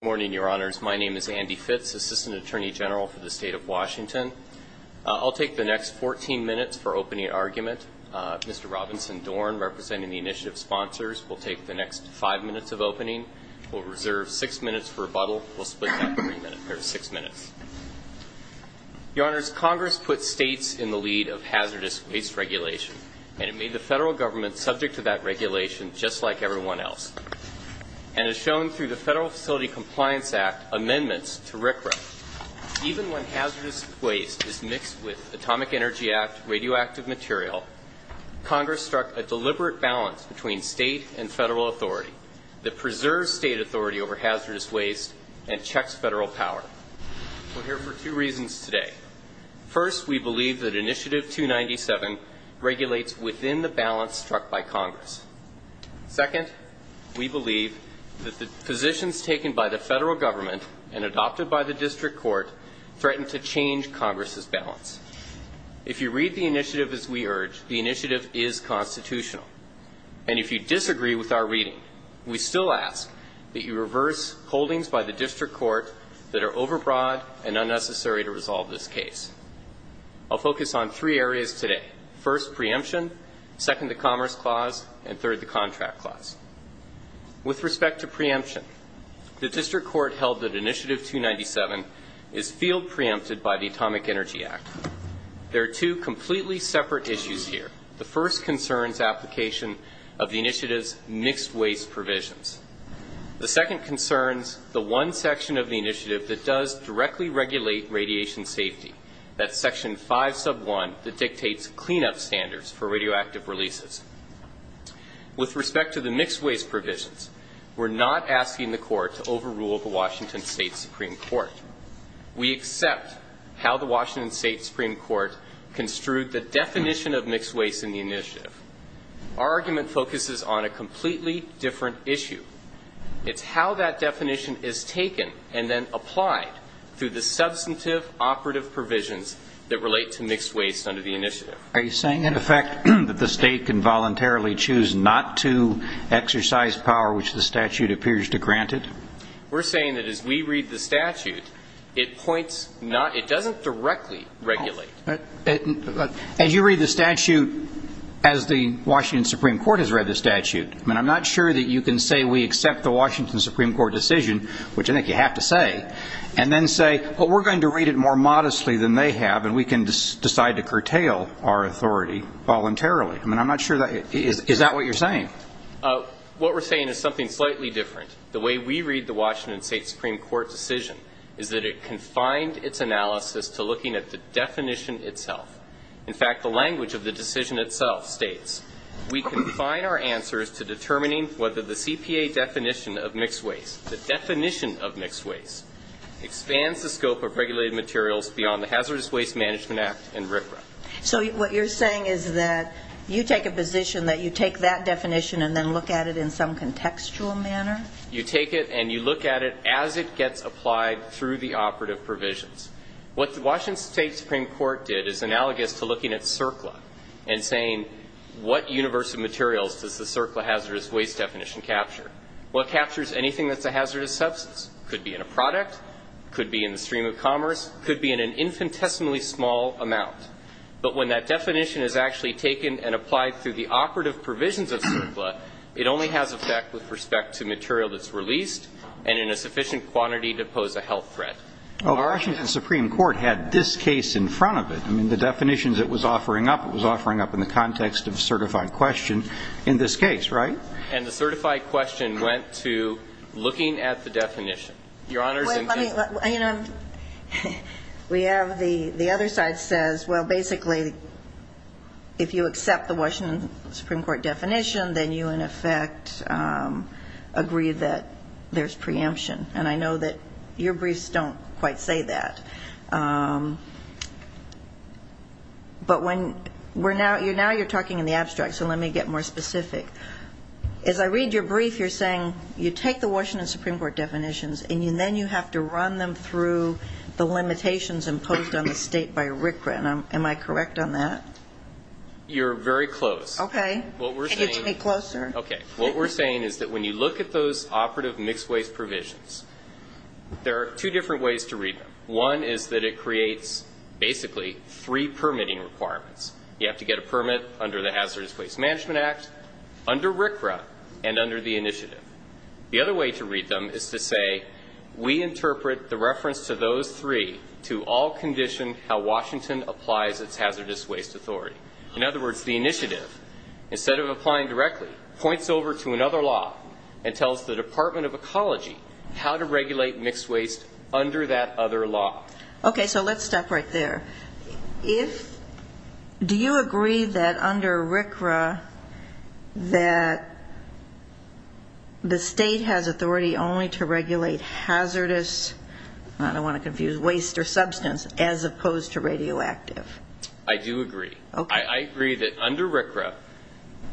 Good morning, Your Honors. My name is Andy Fitz, Assistant Attorney General for the State of Washington. I'll take the next 14 minutes for opening arguments. Mr. Robinson Dorn, representing the initiative sponsors, will take the next five minutes of opening. We'll reserve six minutes for rebuttal. We'll split that three minutes, or six minutes. Your Honors, Congress put states in the lead of hazardous waste regulation, and it made the federal government subject to that regulation just like everyone else. And as shown through the Federal Facility Compliance Act amendments to RCRA, even when hazardous waste is mixed with Atomic Energy Act radioactive material, Congress struck a deliberate balance between state and federal authority that preserves state authority over hazardous waste and checks federal power. We're here for two reasons today. First, we believe that Initiative 297 regulates within the balance struck by Congress. Second, we believe that the positions taken by the federal government and adopted by the district court threaten to change Congress's balance. If you read the initiative as we urge, the initiative is constitutional. And if you disagree with our reading, we still ask that you reverse holdings by the district court that are overbroad and unnecessary to resolve this case. I'll focus on three areas today. First, preemption. Second, the Commerce Clause. And third, the Contract Clause. With respect to preemption, the district court held that Initiative 297 is field preempted by the Atomic Energy Act. There are two completely separate issues here. The first concerns application of the initiative's mixed waste provisions. The second concerns the one section of the initiative that does directly regulate radiation safety. That's section 5 sub 1 that dictates cleanup standards for radioactive releases. With respect to the mixed waste provisions, we're not asking the court to overrule the Washington State Supreme Court. We accept how the Washington State Supreme Court construed the definition of mixed waste in the initiative. Our argument focuses on a completely different issue. It's how that definition is taken and then applied through the substantive operative provisions that relate to mixed waste under the initiative. Are you saying, in effect, that the state can voluntarily choose not to exercise power, which the statute appears to grant it? We're saying that as we read the statute, it doesn't directly regulate. And you read the statute as the Washington Supreme Court has read the statute. I'm not sure that you can say we accept the Washington Supreme Court decision, which I think you have to say, and then say, but we're going to read it more modestly than they have, and we can decide to curtail our authority voluntarily. I'm not sure that is that what you're saying. What we're saying is something slightly different. The way we read the Washington State Supreme Court's decision is that it confined its analysis to looking at the definition itself. In fact, the language of the decision itself states, we confine our answers to determining whether the CPA definition of mixed waste, the definition of mixed waste, expands the scope of regulated materials beyond the Hazardous Waste Management Act and RFRA. So what you're saying is that you take a position that you take that definition and then look at it in some contextual manner? You take it and you look at it as it gets applied through the operative provisions. What the Washington State Supreme Court did is analogous to looking at CERCLA and saying, what universe of materials does the CERCLA hazardous waste definition capture? Well, it captures anything that's a hazardous substance. It could be in a product. It could be in the stream of commerce. It could be in an infinitesimally small amount. But when that definition is actually taken and applied through the operative provisions of CERCLA, it only has effect with respect to material that's released and in a sufficient quantity to pose a health threat. Well, the Washington Supreme Court had this case in front of it. The definitions it was offering up, it was offering up in the context of a certified question in this case, right? And the certified question went to looking at the definition. We have the other side says, well, basically, if you accept the Washington Supreme Court definition, then you in effect agree that there's preemption. And I know that your briefs don't quite say that. But now you're talking in the abstract, so let me get more specific. As I read your brief, you're saying you take the Washington Supreme Court definitions and then you have to run them through the limitations imposed on the state by RCRA. Am I correct on that? You're very close. Okay. Can you speak closer? Okay. What we're saying is that when you look at those operative mixed waste provisions, there are two different ways to read them. One is that it creates basically three permitting requirements. You have to get a permit under the Hazardous Waste Management Act, under RCRA, and under the initiative. The other way to read them is to say we interpret the reference to those three to all conditions how Washington applies its hazardous waste authority. In other words, the initiative, instead of applying directly, points over to another law and tells the Department of Ecology how to regulate mixed waste under that other law. Okay, so let's separate there. Do you agree that under RCRA that the state has authority only to regulate hazardous, I don't want to confuse waste or substance, as opposed to radioactive? I do agree. I agree that under RCRA,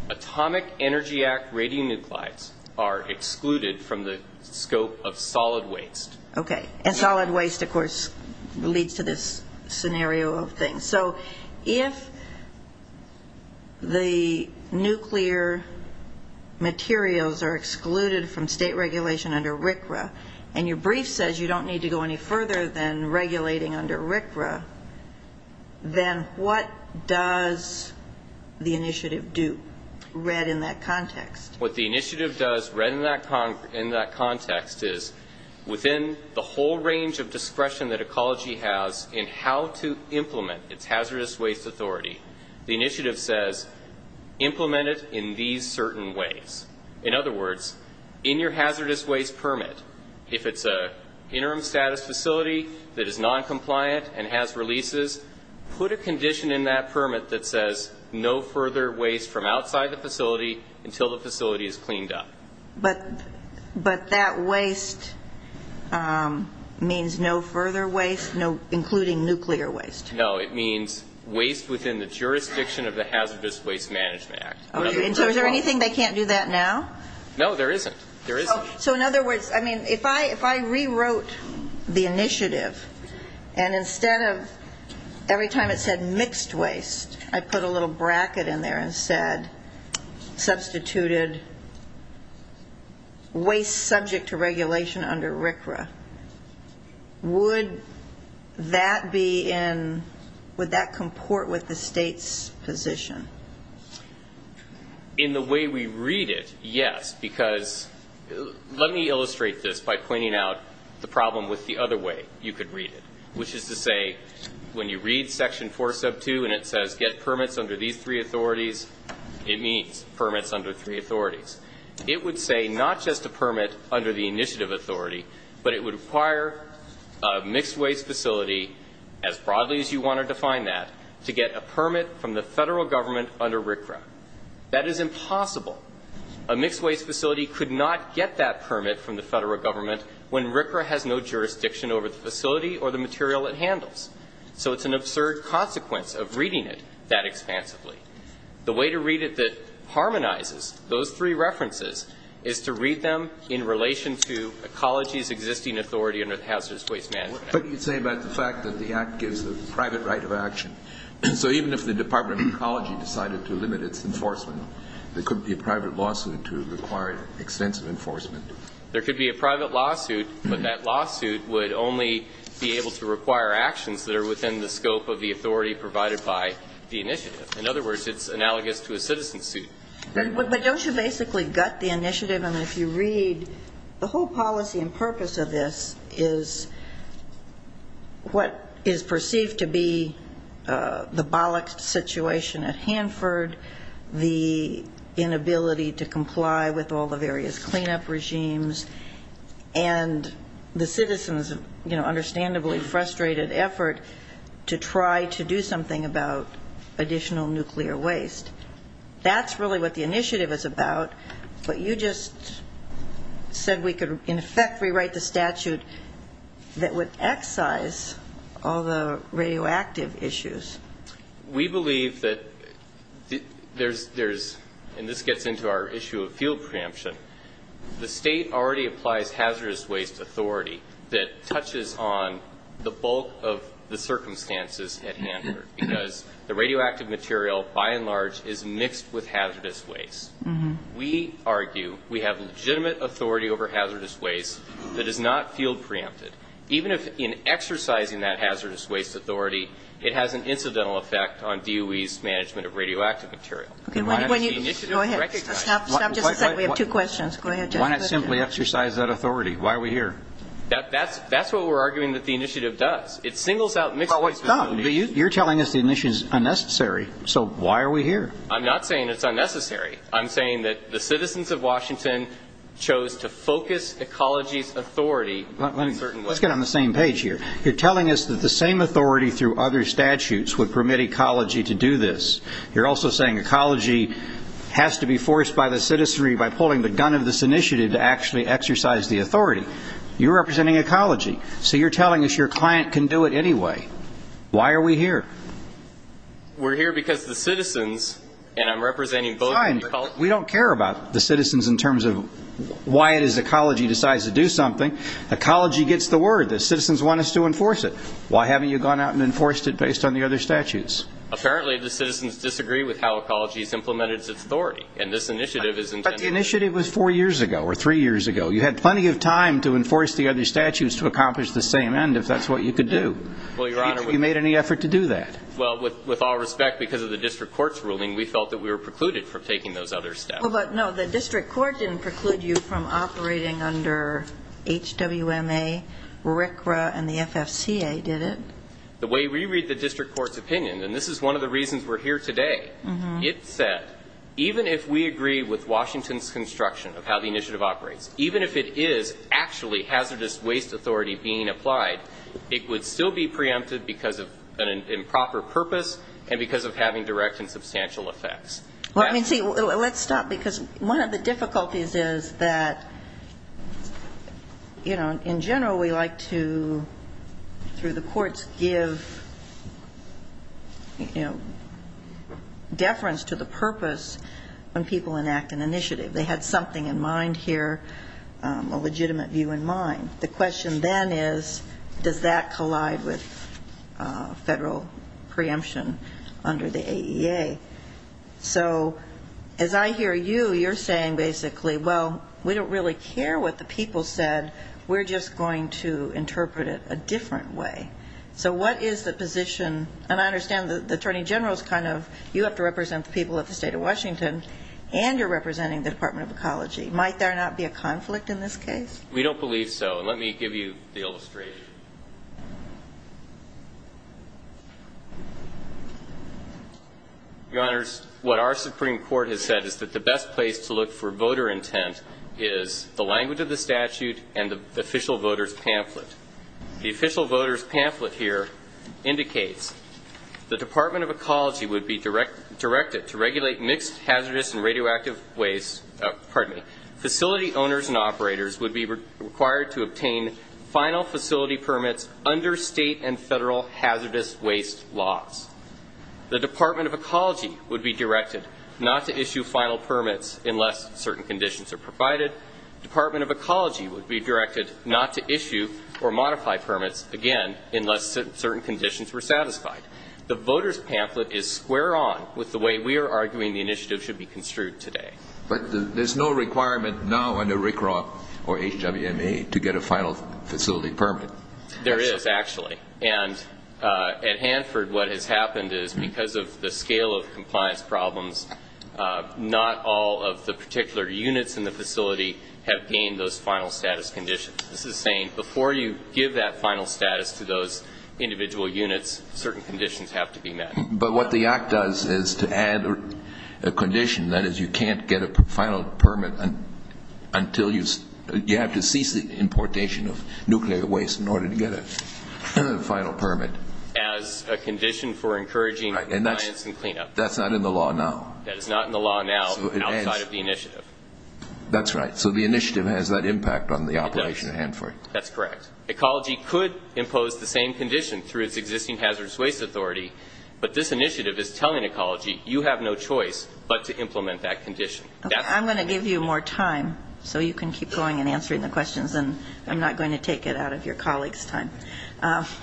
Atomic Energy Act radionuclides are excluded from the scope of solid waste. Okay, and solid waste, of course, leads to this scenario of things. So if the nuclear materials are excluded from state regulation under RCRA and your brief says you don't need to go any further than regulating under RCRA, then what does the initiative do, read in that context? What the initiative does, read in that context, is within the whole range of discretion that ecology has in how to implement its hazardous waste authority, the initiative says implement it in these certain ways. In other words, in your hazardous waste permit, if it's an interim status facility that is noncompliant and has releases, put a condition in that permit that says no further waste from outside the facility until the facility is cleaned up. But that waste means no further waste, including nuclear waste? No, it means waste within the jurisdiction of the Hazardous Waste Management Act. So is there anything they can't do that now? No, there isn't. So in other words, if I rewrote the initiative and instead of every time it said mixed waste, I put a little bracket in there and said substituted waste subject to regulation under RCRA, would that comport with the state's position? In the way we read it, yes. Because let me illustrate this by pointing out the problem with the other way you could read it, which is to say when you read section 4 sub 2 and it says get permits under these three authorities, it means permits under three authorities. It would say not just a permit under the initiative authority, but it would require a mixed waste facility, as broadly as you want to define that, to get a permit from the federal government under RCRA. That is impossible. A mixed waste facility could not get that permit from the federal government when RCRA has no jurisdiction over the facility or the material it handles. So it's an absurd consequence of reading it that expansively. The way to read it that harmonizes those three references is to read them in relation to Ecology's existing authority under the Hazardous Waste Management Act. What do you say about the fact that the Act gives a private right of action? So even if the Department of Ecology decided to limit its enforcement, there couldn't be a private lawsuit to require extensive enforcement. There could be a private lawsuit, but that lawsuit would only be able to require actions that are within the scope of the authority provided by the initiative. In other words, it's analogous to a citizen suit. But don't you basically gut the initiative? The whole policy and purpose of this is what is perceived to be the bollocks situation at Hanford, the inability to comply with all the various cleanup regimes, and the citizens' understandably frustrated effort to try to do something about additional nuclear waste. That's really what the initiative is about. But you just said we could, in effect, rewrite the statute that would excise all the radioactive issues. We believe that there's, and this gets into our issue of fuel preemption, the state already applies hazardous waste authority that touches on the bulk of the circumstances at Hanford because the radioactive material, by and large, is mixed with hazardous waste. We argue we have legitimate authority over hazardous waste that is not fuel preempted. Even if in exercising that hazardous waste authority, it has an incidental effect on DOE's management of radioactive material. Go ahead. We have two questions. Why not simply exercise that authority? Why are we here? That's what we're arguing that the initiative does. You're telling us the initiative is unnecessary, so why are we here? I'm not saying it's unnecessary. I'm saying that the citizens of Washington chose to focus ecology's authority. Let's get on the same page here. You're telling us that the same authority through other statutes would permit ecology to do this. You're also saying ecology has to be forced by the citizenry by pulling the gun of this initiative to actually exercise the authority. You're representing ecology, so you're telling us your client can do it anyway. Why are we here? We're here because the citizens, and I'm representing both. Fine. We don't care about the citizens in terms of why it is ecology decides to do something. Ecology gets the word. The citizens want us to enforce it. Why haven't you gone out and enforced it based on the other statutes? Apparently, the citizens disagree with how ecology has implemented its authority, and this initiative is intended to do that. But the initiative was four years ago or three years ago. You had plenty of time to enforce the other statutes to accomplish the same end, if that's what you could do. You made any effort to do that? With all respect, because of the district court's ruling, we felt that we were precluded from taking those other steps. No, the district court didn't preclude you from operating under HWMA, RCRA, and the FFCA, did it? The way we read the district court's opinion, and this is one of the reasons we're here today, it says even if we agree with Washington's construction of how the initiative operates, even if it is actually hazardous waste authority being applied, it would still be preempted because of an improper purpose and because of having direct and substantial effects. Let's stop, because one of the difficulties is that, in general, we like to, through the courts, give deference to the purpose when people enact an initiative. They have something in mind here, a legitimate view in mind. The question then is, does that collide with federal preemption under the AEA? So, as I hear you, you're saying basically, well, we don't really care what the people said, we're just going to interpret it a different way. So what is the position, and I understand the Attorney General's kind of, you have to represent the people of the state of Washington, and you're representing the Department of Ecology. Might there not be a conflict in this case? We don't believe so, and let me give you the illustration. Your Honors, what our Supreme Court has said is that the best place to look for voter intent is the language of the statute and the official voter's pamphlet. The official voter's pamphlet here indicates, the Department of Ecology would be directed to regulate mixed hazardous and radioactive waste, facility owners and operators would be required to obtain final facility permits under state and federal hazardous waste laws. The Department of Ecology would be directed not to issue final permits unless certain conditions are provided. Department of Ecology would be directed not to issue or modify permits, again, unless certain conditions were satisfied. The voter's pamphlet is square on with the way we are arguing the initiative should be construed today. But there's no requirement now under RCRA or HWMA to get a final facility permit. There is, actually. And at Hanford, what has happened is, because of the scale of compliance problems, not all of the particular units in the facility have gained those final status conditions. This is saying, before you give that final status to those individual units, certain conditions have to be met. But what the Act does is to add a condition. That is, you can't get a final permit until you... you have to cease the importation of nuclear waste in order to get a final permit. As a condition for encouraging compliance and cleanup. That's not in the law now. That is not in the law now, outside of the initiative. That's right. So the initiative has that impact on the operation at Hanford. That's correct. Ecology could impose the same conditions through its existing hazardous waste authority, but this initiative is telling Ecology, you have no choice but to implement that condition. I'm going to give you more time so you can keep going and answering the questions, and I'm not going to take it out of your colleague's time,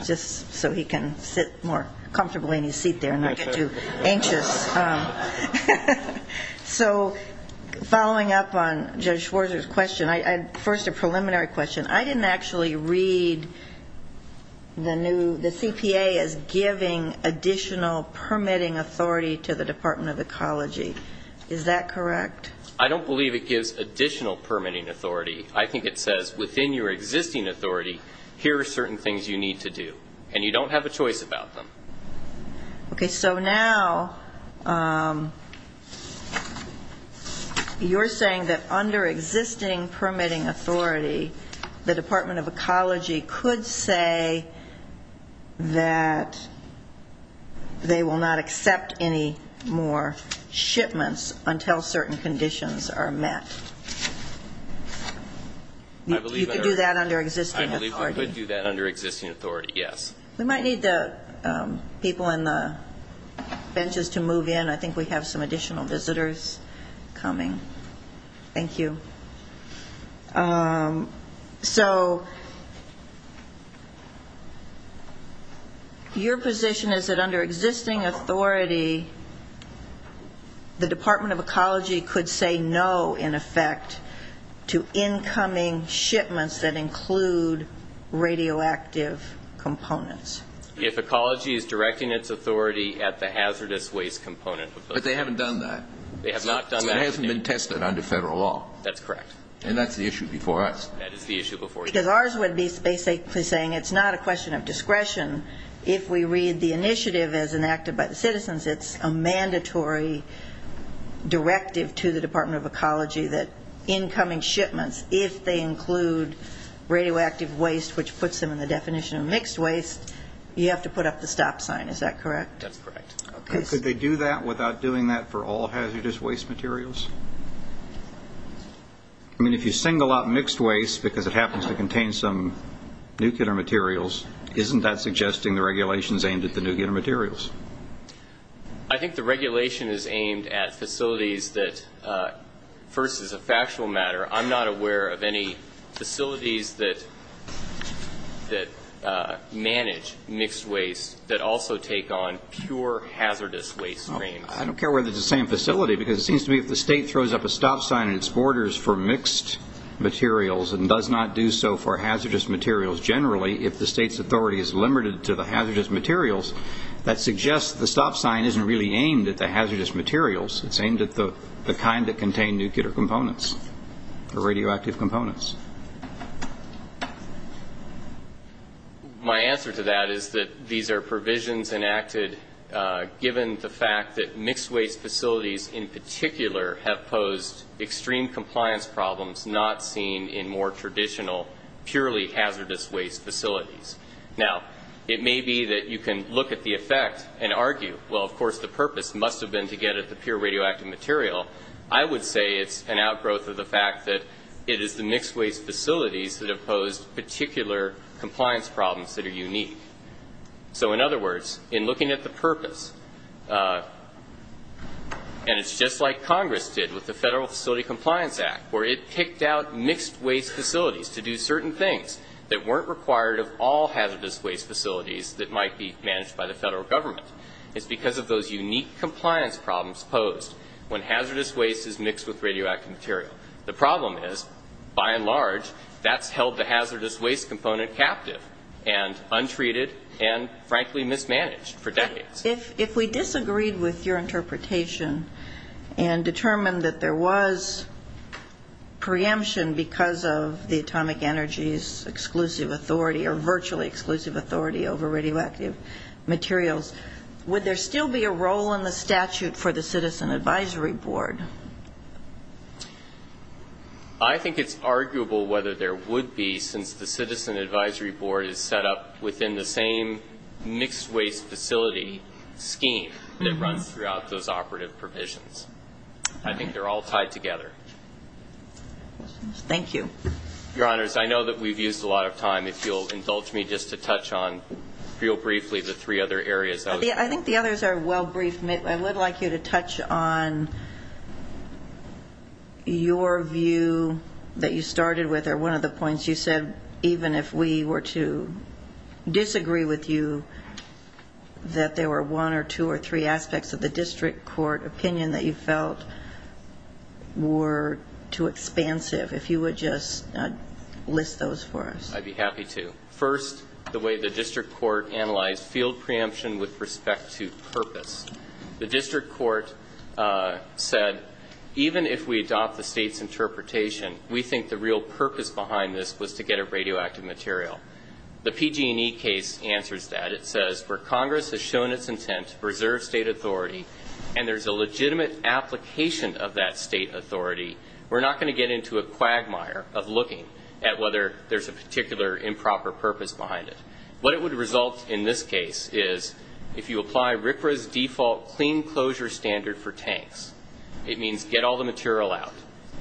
just so he can sit more comfortably in his seat there and not get too anxious. So, following up on Judge Schwarzer's question, first a preliminary question. I didn't actually read the new...the CPA as giving additional permitting authority to the Department of Ecology. Is that correct? I don't believe it gives additional permitting authority. I think it says within your existing authority, here are certain things you need to do, and you don't have a choice about them. Okay, so now you're saying that under existing permitting authority, the Department of Ecology could say that they will not accept any more shipments until certain conditions are met. You could do that under existing authority? I believe we could do that under existing authority, yes. We might need the people on the benches to move in. I think we have some additional visitors coming. Thank you. So, your position is that under existing authority, the Department of Ecology could say no, in effect, to incoming shipments that include radioactive components. If ecology is directing its authority at the hazardous waste component... But they haven't done that. They have not done that. It hasn't been tested under federal law. That's correct. And that's the issue before us. That is the issue before you. Because ours would be basically saying it's not a question of discretion. If we read the initiative as enacted by the citizens, it's a mandatory directive to the Department of Ecology that incoming shipments, if they include radioactive waste, which puts them in the definition of mixed waste, you have to put up the stop sign. Is that correct? That's correct. Could they do that without doing that for all hazardous waste materials? I mean, if you single out mixed waste, because it happens to contain some nuclear materials, isn't that suggesting the regulation is aimed at the nuclear materials? I think the regulation is aimed at facilities that, first, as a factual matter, I'm not aware of any facilities that manage mixed waste that also take on pure hazardous waste streams. I don't care whether it's the same facility, because it seems to me if the state throws up a stop sign at its borders for mixed materials and does not do so for hazardous materials generally, if the state's authority is limited to the hazardous materials, that suggests the stop sign isn't really aimed at the hazardous materials. It's aimed at the kind that contain nuclear components or radioactive components. My answer to that is that these are provisions enacted given the fact that mixed waste facilities, in particular, have posed extreme compliance problems not seen in more traditional, purely hazardous waste facilities. Now, it may be that you can look at the effects and argue, well, of course, the purpose must have been to get at the pure radioactive material. I would say it's an outgrowth of the fact that it is the mixed waste facilities that have posed particular compliance problems that are unique. So, in other words, in looking at the purpose, and it's just like Congress did with the Federal Facility Compliance Act, where it kicked out mixed waste facilities to do certain things that weren't required of all hazardous waste facilities that might be managed by the federal government. It's because of those unique compliance problems posed when hazardous waste is mixed with radioactive material. The problem is, by and large, that's held the hazardous waste component captive and untreated and, frankly, mismanaged for decades. If we disagreed with your interpretation and determined that there was preemption because of the Atomic Energy's exclusive authority or virtually exclusive authority over radioactive materials, would there still be a role in the statute for the Citizen Advisory Board? I think it's arguable whether there would be since the Citizen Advisory Board is set up within the same mixed waste facility scheme that runs throughout those operative provisions. I think they're all tied together. Thank you. Your Honors, I know that we've used a lot of time. If you'll indulge me just to touch on real briefly the three other areas. I think the others are well briefed. I would like you to touch on your view that you started with or one of the points you said, even if we were to disagree with you, that there were one or two or three aspects of the district court opinion that you felt were too expansive. If you would just list those for us. I'd be happy to. First, the way the district court analyzed field preemption with respect to purpose. The district court said, even if we adopt the state's interpretation, we think the real purpose behind this was to get a radioactive material. The PG&E case answers that. It says, where Congress has shown us intent to preserve state authority and there's a legitimate application of that state authority, we're not going to get into a quagmire of looking at whether there's a particular improper purpose behind it. What it would result in this case is, if you apply RFRA's default clean closure standard for tanks, it means get all the material out.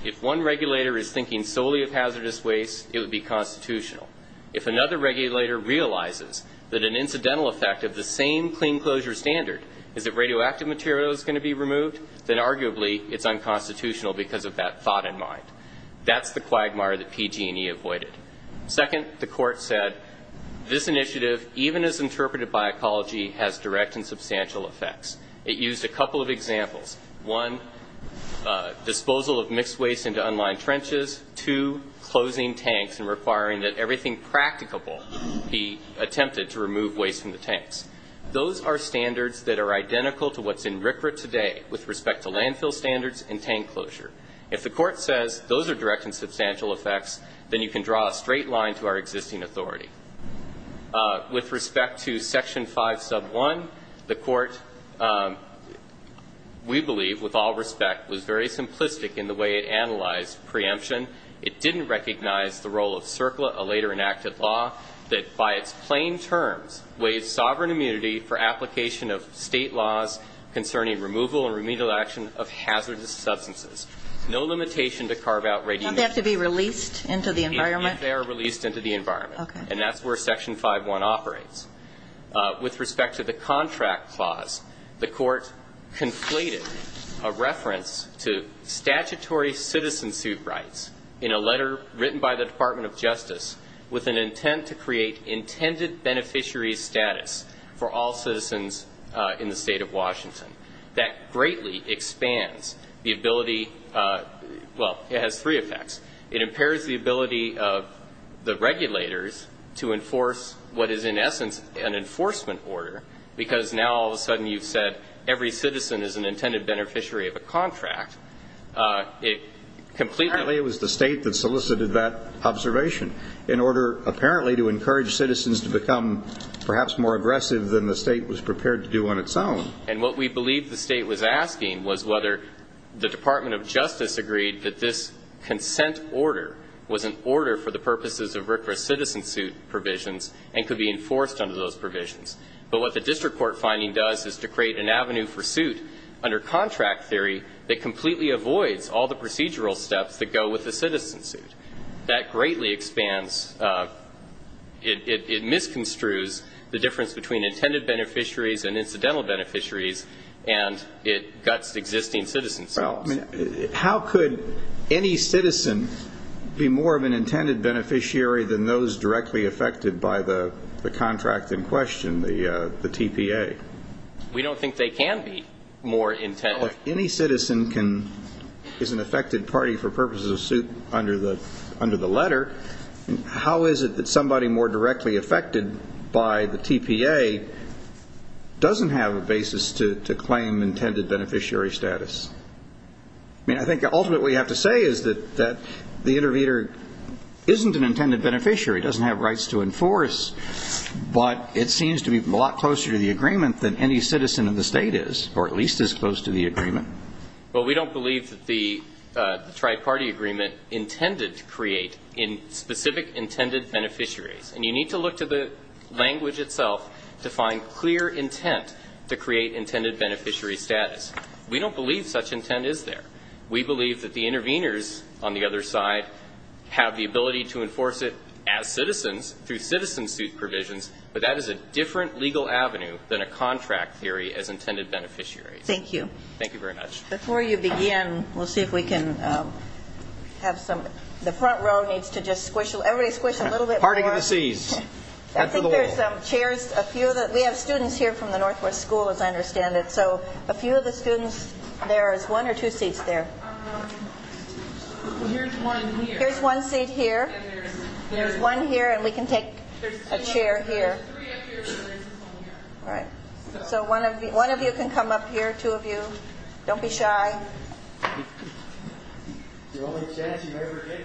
If one regulator is thinking solely of hazardous waste, it would be constitutional. If another regulator realizes that an incidental effect of the same clean closure standard is that radioactive material is going to be removed, then arguably it's unconstitutional because of that thought in mind. That's the quagmire that PG&E avoided. Second, the court said, this initiative, even as interpreted by ecology, has direct and substantial effects. It used a couple of examples. One, disposal of mixed waste into unlined trenches. Two, closing tanks and requiring that everything practicable be attempted to remove waste in the tanks. Those are standards that are identical to what's in RFRA today with respect to landfill standards and tank closure. If the court says those are direct and substantial effects, then you can draw a straight line to our existing authority. With respect to Section 5.1, the court, we believe, with all respect, was very simplistic in the way it analyzed preemption. It didn't recognize the role of CERCLA, a later enacted law, that by its plain terms waived sovereign immunity for application of state laws concerning removal and remedial action of hazardous substances. No limitation to carve out radiation. They have to be released into the environment? They are released into the environment, and that's where Section 5.1 operates. With respect to the contract clause, the court conflated a reference to statutory citizenship rights in a letter written by the Department of Justice with an intent to create intended beneficiary status for all citizens in the state of Washington. That greatly expands the ability, well, it has three effects. It impairs the ability of the regulators to enforce what is in essence an enforcement order because now all of a sudden you've said every citizen is an intended beneficiary of a contract. Apparently it was the state that solicited that observation in order, apparently, to encourage citizens to become perhaps more aggressive than the state was prepared to do on its own. And what we believe the state was asking was whether the Department of Justice agreed that this consent order was an order for the purposes of RCRA citizen suit provisions and could be enforced under those provisions. But what the district court finding does is to create an avenue for suit under contract theory that completely avoids all the procedural steps that go with the citizen suit. That greatly expands, it misconstrues the difference between intended beneficiaries and incidental beneficiaries, and it guts existing citizens. How could any citizen be more of an intended beneficiary than those directly affected by the contract in question, the TPA? We don't think they can be more intended. If any citizen is an affected party for purposes of suit under the letter, how is it that somebody more directly affected by the TPA doesn't have a basis to claim intended beneficiary status? I mean, I think ultimately what you have to say is that the intervener isn't an intended beneficiary, doesn't have rights to enforce, but it seems to be a lot closer to the agreement than any citizen in the state is, or at least as close to the agreement. Well, we don't believe that the Tri-Party Agreement intended to create specific intended beneficiaries. And you need to look to the language itself to find clear intent to create intended beneficiary status. We don't believe such intent is there. We believe that the interveners on the other side have the ability to enforce it as citizens through citizen suit provisions, but that is a different legal avenue than a contract theory as intended beneficiary. Thank you. Thank you very much. Before you begin, we'll see if we can have some, the front row needs to just squish, everybody squish a little bit more. I think there's some chairs, a few of the, we have students here from the North Fork School as I understand it, so a few of the students, there is one or two seats there. There's one seat here, there's one here, and we can take a chair here. So one of you can come up here, two of you, don't be shy. The only chance you ever get.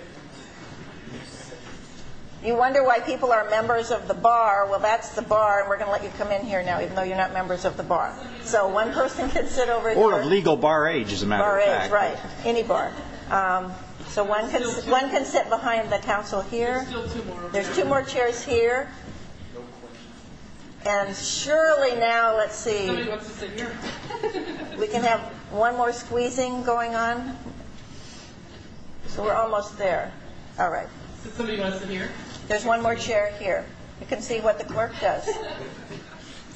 You wonder why people are members of the bar, well, that's the bar, and we're going to let you come in here now even though you're not members of the bar. So one person can sit over here. Or a legal bar aide as a matter of fact. Right, any bar. So one can sit behind the castle here. There's two more chairs here. And surely now let's see. We can have one more squeezing going on. We're almost there. All right. There's one more chair here. You can see what the clerk does.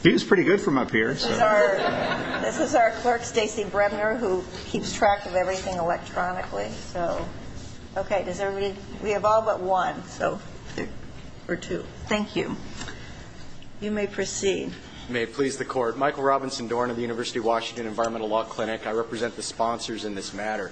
He is pretty good from up here. This is our clerk, Stacy Bremner, who keeps track of everything electronically. So, okay, we have all but one, so, or two. Thank you. You may proceed. May it please the Court. Michael Robinson Dorn of the University of Washington Environmental Law Clinic. I represent the sponsors in this matter.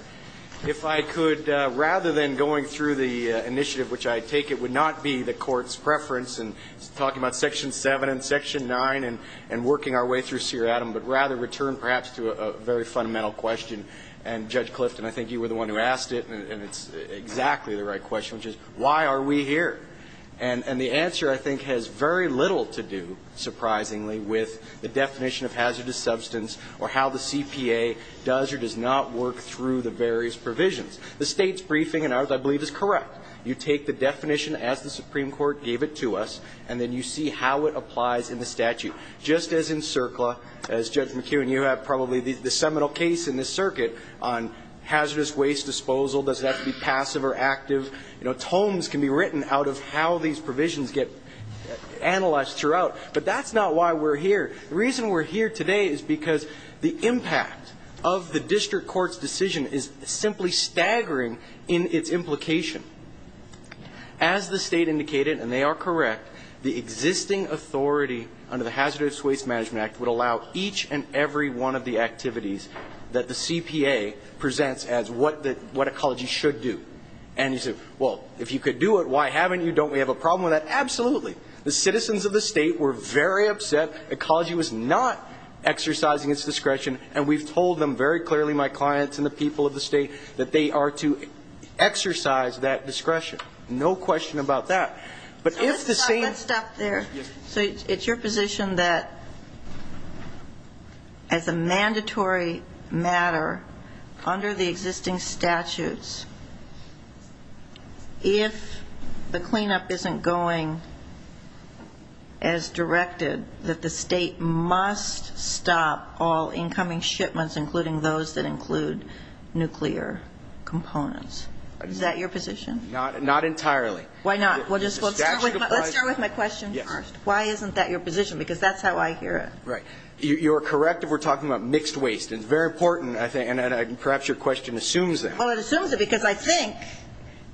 If I could, rather than going through the initiative, which I take it, would not be the Court's preference in talking about Section 7 and Section 9 and working our way through Seer Adam, but rather return perhaps to a very fundamental question. And Judge Clifton, I think you were the one who asked it, and it's exactly the right question, which is why are we here? And the answer, I think, has very little to do, surprisingly, with the definition of hazardous substance or how the CPA does or does not work through the various provisions. The state's briefing and ours, I believe, is correct. You take the definition as the Supreme Court gave it to us, and then you see how it applies in the statute. Just as in CERCLA, as Judge McKeown, you have probably the seminal case in this circuit on hazardous waste disposal, does it have to be passive or active? Because tomes can be written out of how these provisions get analyzed throughout. But that's not why we're here. The reason we're here today is because the impact of the district court's decision is simply staggering in its implication. As the state indicated, and they are correct, the existing authority under the Hazardous Waste Management Act would allow each and every one of the activities that the CPA presents as what ecology should do. And you say, well, if you could do it, why haven't you? Don't we have a problem with that? Absolutely. The citizens of the state were very upset. Ecology was not exercising its discretion, and we've told them very clearly, my clients and the people of the state, that they are to exercise that discretion. No question about that. Let's stop there. So it's your position that as a mandatory matter under the existing statutes, if the cleanup isn't going as directed, that the state must stop all incoming shipments, including those that include nuclear components. Is that your position? Not entirely. Why not? Let's start with my question. Why isn't that your position? Because that's how I hear it. You're correct that we're talking about mixed waste. It's very important, and perhaps your question assumes that. It assumes it because I think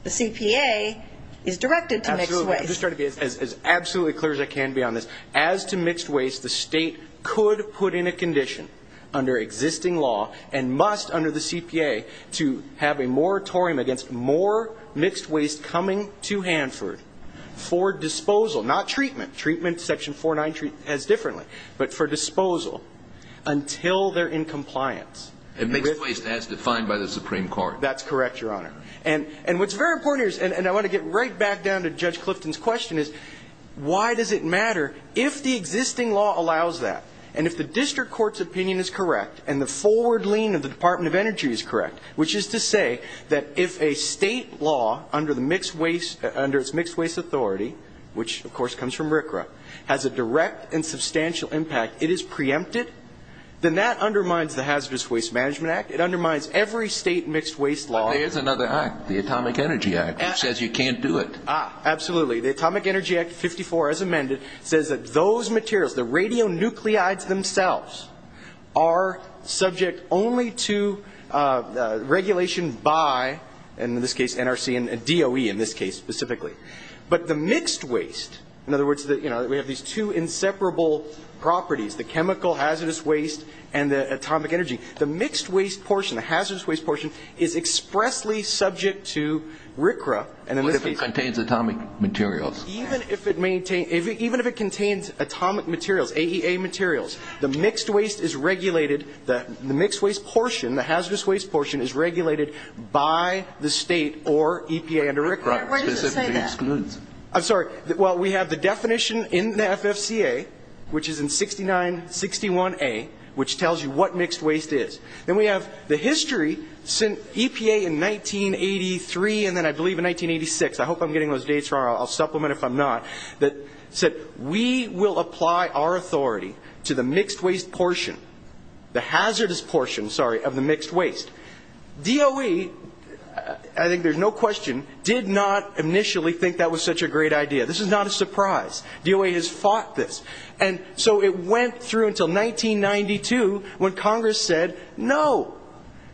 the CPA is directed to mixed waste. I'm just trying to get as absolutely clear as I can be on this. As to mixed waste, the state could put in a condition under existing law and must under the CPA to have a moratorium against more mixed waste coming to Hanford for disposal. Not treatment. Treatment, section 49 has differently. But for disposal until they're in compliance. As defined by the Supreme Court. That's correct, Your Honor. And what's very important here, and I want to get right back down to Judge Clifton's question, is why does it matter if the existing law allows that? And if the district court's opinion is correct, and the forward lean of the Department of Energy is correct, which is to say that if a state law under its mixed waste authority, which, of course, comes from RCRA, has a direct and substantial impact, it is preempted, then that undermines the Hazardous Waste Management Act. It undermines every state mixed waste law. There is another act, the Atomic Energy Act, which says you can't do it. Absolutely. The Atomic Energy Act, 54, as amended, says that those materials, the radionuclides themselves, are subject only to regulation by, in this case, NRC and DOE, in this case specifically. But the mixed waste, in other words, we have these two inseparable properties, the chemical hazardous waste and the atomic energy. The mixed waste portion, the hazardous waste portion, is expressly subject to RCRA. What if it contains atomic materials? Even if it contains atomic materials, AEA materials, the mixed waste is regulated. The mixed waste portion, the hazardous waste portion, is regulated by the state or EPA under RCRA. Where does it say that? I'm sorry. Well, we have the definition in the FFCA, which is in 6961A, which tells you what mixed waste is. Then we have the history since EPA in 1983 and then I believe in 1986. I hope I'm getting those dates right. I'll supplement if I'm not. We will apply our authority to the mixed waste portion, the hazardous portion, sorry, of the mixed waste. DOE, I think there's no question, did not initially think that was such a great idea. This is not a surprise. DOE has fought this. And so it went through until 1992 when Congress said, no,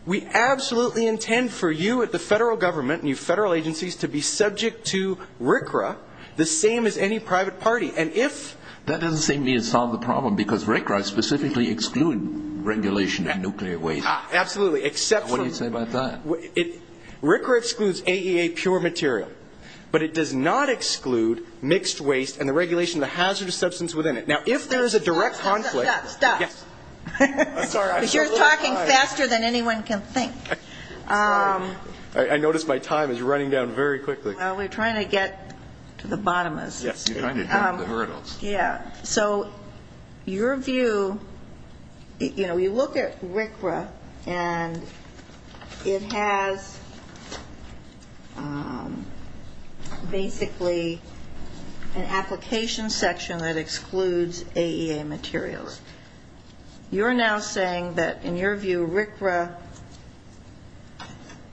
we absolutely intend for you at the federal government and you federal agencies to be subject to RCRA, the same as any private party. That doesn't seem to solve the problem because RCRA specifically excludes regulation of nuclear waste. Absolutely. What do you say about that? RCRA excludes AEA pure material, but it does not exclude mixed waste and the regulation of the hazardous substance within it. Now, if there is a direct conflict. Stop. I'm sorry. You're talking faster than anyone can think. I notice my time is running down very quickly. Well, we're trying to get to the bottom of this. You're trying to jump the hurdle. Yeah. So your view, you know, you look at RCRA and it has basically an application section that excludes AEA materials. You're now saying that, in your view, RCRA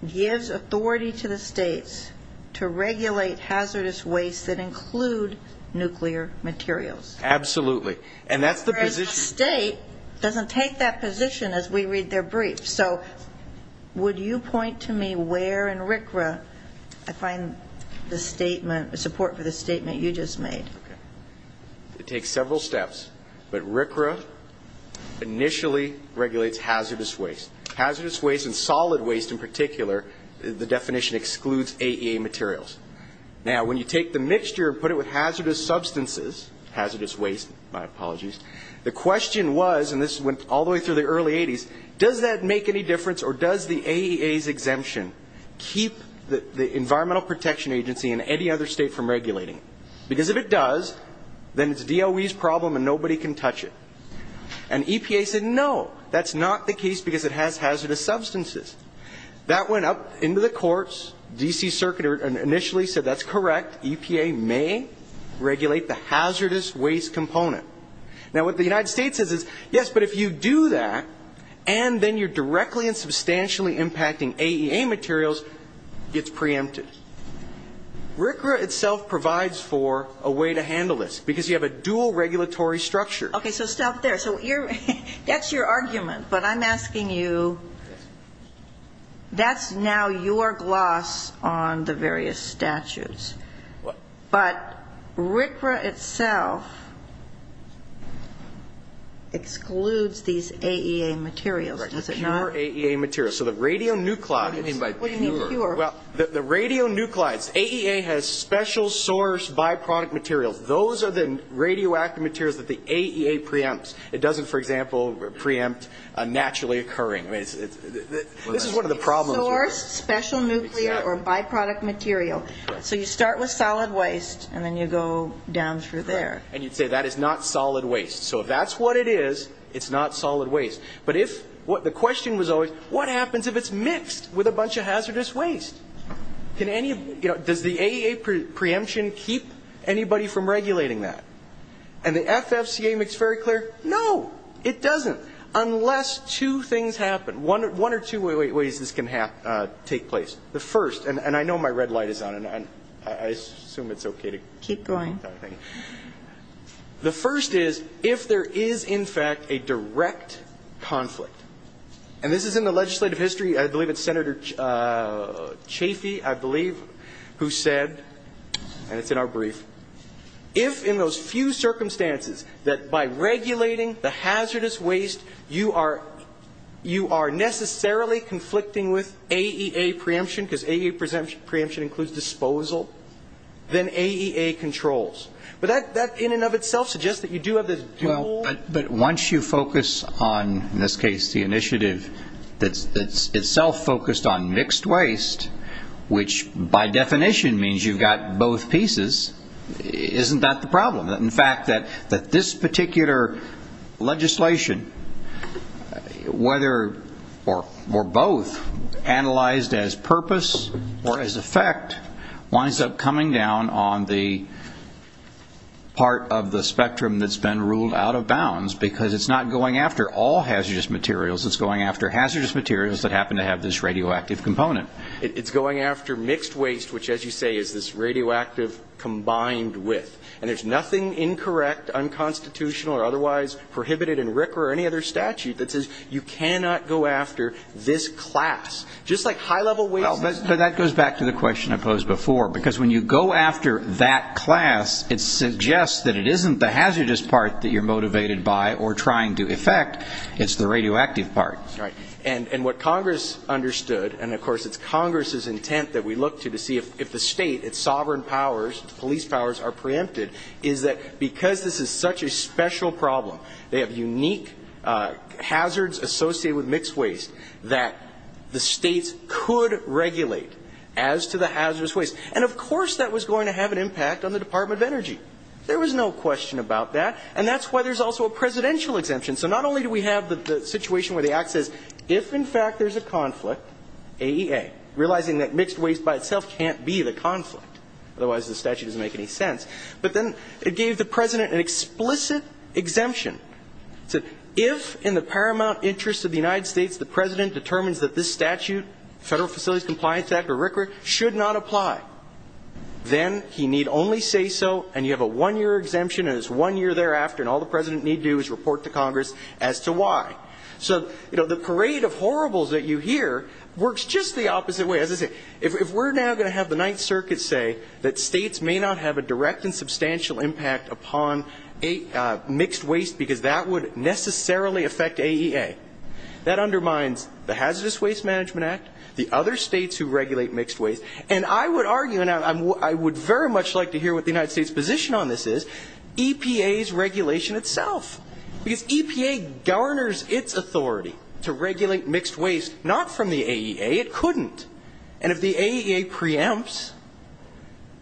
gives authority to the states to regulate hazardous waste that include nuclear materials. Absolutely. And that's the position. The state doesn't take that position as we read their brief. So would you point to me where in RCRA I find the statement, the support for the statement you just made? It takes several steps. But RCRA initially regulates hazardous waste. Hazardous waste and solid waste in particular, the definition excludes AEA materials. Now, when you take the mixture and put it with hazardous substances, hazardous waste, my apologies, the question was, and this went all the way through the early 80s, does that make any difference or does the AEA's exemption keep the Environmental Protection Agency and any other state from regulating? Because if it does, then it's DOE's problem and nobody can touch it. And EPA said, no, that's not the case because it has hazardous substances. That went up into the courts. DC Circuit initially said that's correct. EPA may regulate the hazardous waste component. Now, what the United States says is, yes, but if you do that, and then you're directly and substantially impacting AEA materials, it's preempted. RCRA itself provides for a way to handle this because you have a dual regulatory structure. Okay, so stop there. So that's your argument, but I'm asking you, that's now your gloss on the various statutes. But RCRA itself excludes these AEA materials, does it not? Pure AEA materials, so the radionuclide. What do you mean by pure? The radionuclide. AEA has special source byproduct material. Those are the radioactive materials that the AEA preempts. It doesn't, for example, preempt naturally occurring. This is one of the problems. Source, special nuclear, or byproduct material. So you start with solid waste and then you go down through there. And you say that is not solid waste. So if that's what it is, it's not solid waste. But the question was always, what happens if it's mixed with a bunch of hazardous waste? Does the AEA preemption keep anybody from regulating that? And the FFCA makes very clear, no, it doesn't, unless two things happen. One or two ways this can take place. The first, and I know my red light is on, and I assume it's okay to keep going. The first is, if there is, in fact, a direct conflict, and this is in the legislative history, I believe it's Senator Chafee, I believe, who said, and it's in our brief, if in those few circumstances that by regulating the hazardous waste you are necessarily conflicting with AEA preemption, because AEA preemption includes disposal, then AEA controls. But that in and of itself suggests that you do have this dual... But once you focus on, in this case, the initiative, it's self-focused on mixed waste, which by definition means you've got both pieces, isn't that the problem? In fact, that this particular legislation, whether or both analyzed as purpose or as effect, winds up coming down on the part of the spectrum that's been ruled out of bounds, because it's not going after all hazardous materials, it's going after hazardous materials that happen to have this radioactive component. It's going after mixed waste, which, as you say, is this radioactive combined with. And there's nothing incorrect, unconstitutional, or otherwise prohibited in RCRA or any other statute that says you cannot go after this class. Just like high-level waste... Well, that goes back to the question I posed before, because when you go after that class, it suggests that it isn't the hazardous part that you're motivated by or trying to effect, it's the radioactive part. And what Congress understood, and of course it's Congress's intent that we look to to see if the state, its sovereign powers, police powers are preempted, is that because this is such a special problem, they have unique hazards associated with mixed waste that the state could regulate as to the hazardous waste. And of course that was going to have an impact on the Department of Energy. There was no question about that, and that's why there's also a presidential exemption. So not only do we have the situation where the act says, if in fact there's a conflict, AEA, realizing that mixed waste by itself can't be the conflict, otherwise the statute doesn't make any sense, but then it gave the president an explicit exemption. It said, if in the paramount interest of the United States the president determines that this statute, Federal Facilities Compliance Act or RCRA, should not apply, then he need only say so, and you have a one-year exemption, and it's one year thereafter, and all the president needs to do is report to Congress as to why. So the parade of horribles that you hear works just the opposite way. If we're now going to have the Ninth Circuit say that states may not have a direct and substantial impact upon mixed waste because that would necessarily affect AEA, that undermines the Hazardous Waste Management Act, the other states who regulate mixed waste, and I would argue, and I would very much like to hear what the United States position on this is, EPA's regulation itself, because EPA garners its authority to regulate mixed waste, not from the AEA. It couldn't, and if the AEA preempts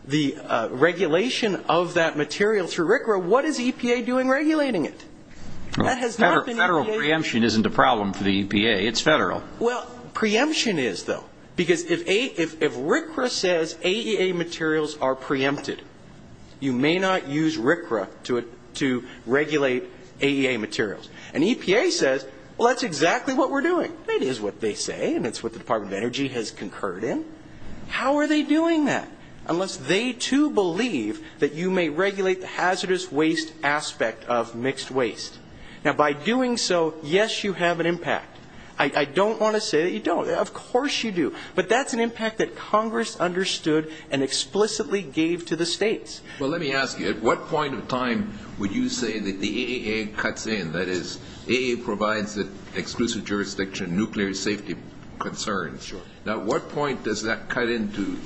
the regulation of that material through RCRA, what is EPA doing regulating it? Federal preemption isn't a problem for the EPA. It's federal. Well, preemption is, though, because if RCRA says AEA materials are preempted, you may not use RCRA to regulate AEA materials, and EPA says, well, that's exactly what we're doing. It is what they say, and it's what the Department of Energy has concurred in. How are they doing that unless they, too, believe that you may regulate the hazardous waste aspect of mixed waste? Now, by doing so, yes, you have an impact. I don't want to say that you don't. Of course you do, but that's an impact that Congress understood and explicitly gave to the states. Well, let me ask you, at what point in time would you say that the AEA cuts in, that is, AEA provides the exclusive jurisdiction nuclear safety concerns? Sure. Now, at what point does that cut in to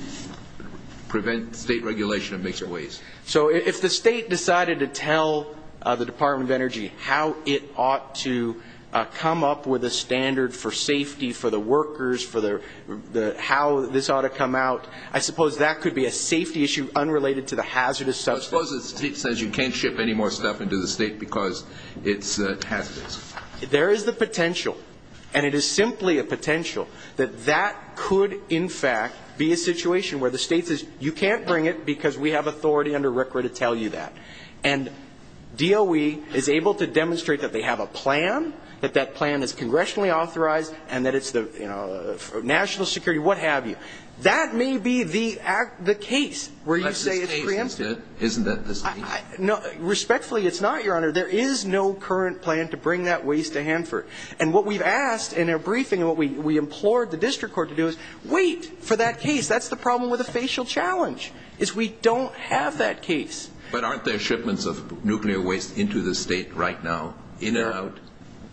prevent state regulation of mixed waste? So if the state decided to tell the Department of Energy how it ought to come up with a standard for safety for the workers, for how this ought to come out, I suppose that could be a safety issue unrelated to the hazardous substance. I suppose the state says you can't ship any more stuff into the state because it's hazardous. There is a potential, and it is simply a potential, that that could, in fact, be a situation where the state says, you can't bring it because we have authority under RCRA to tell you that. And DOE is able to demonstrate that they have a plan, that that plan is congressionally authorized, and that it's for national security, what have you. That may be the case where you say it's preempted. Isn't that the case? Respectfully, it's not, Your Honor. There is no current plan to bring that waste to Hanford. And what we've asked in our briefing, what we implored the district court to do, is wait for that case. That's the problem with a spatial challenge, is we don't have that case. But aren't there shipments of nuclear waste into the state right now, in and out?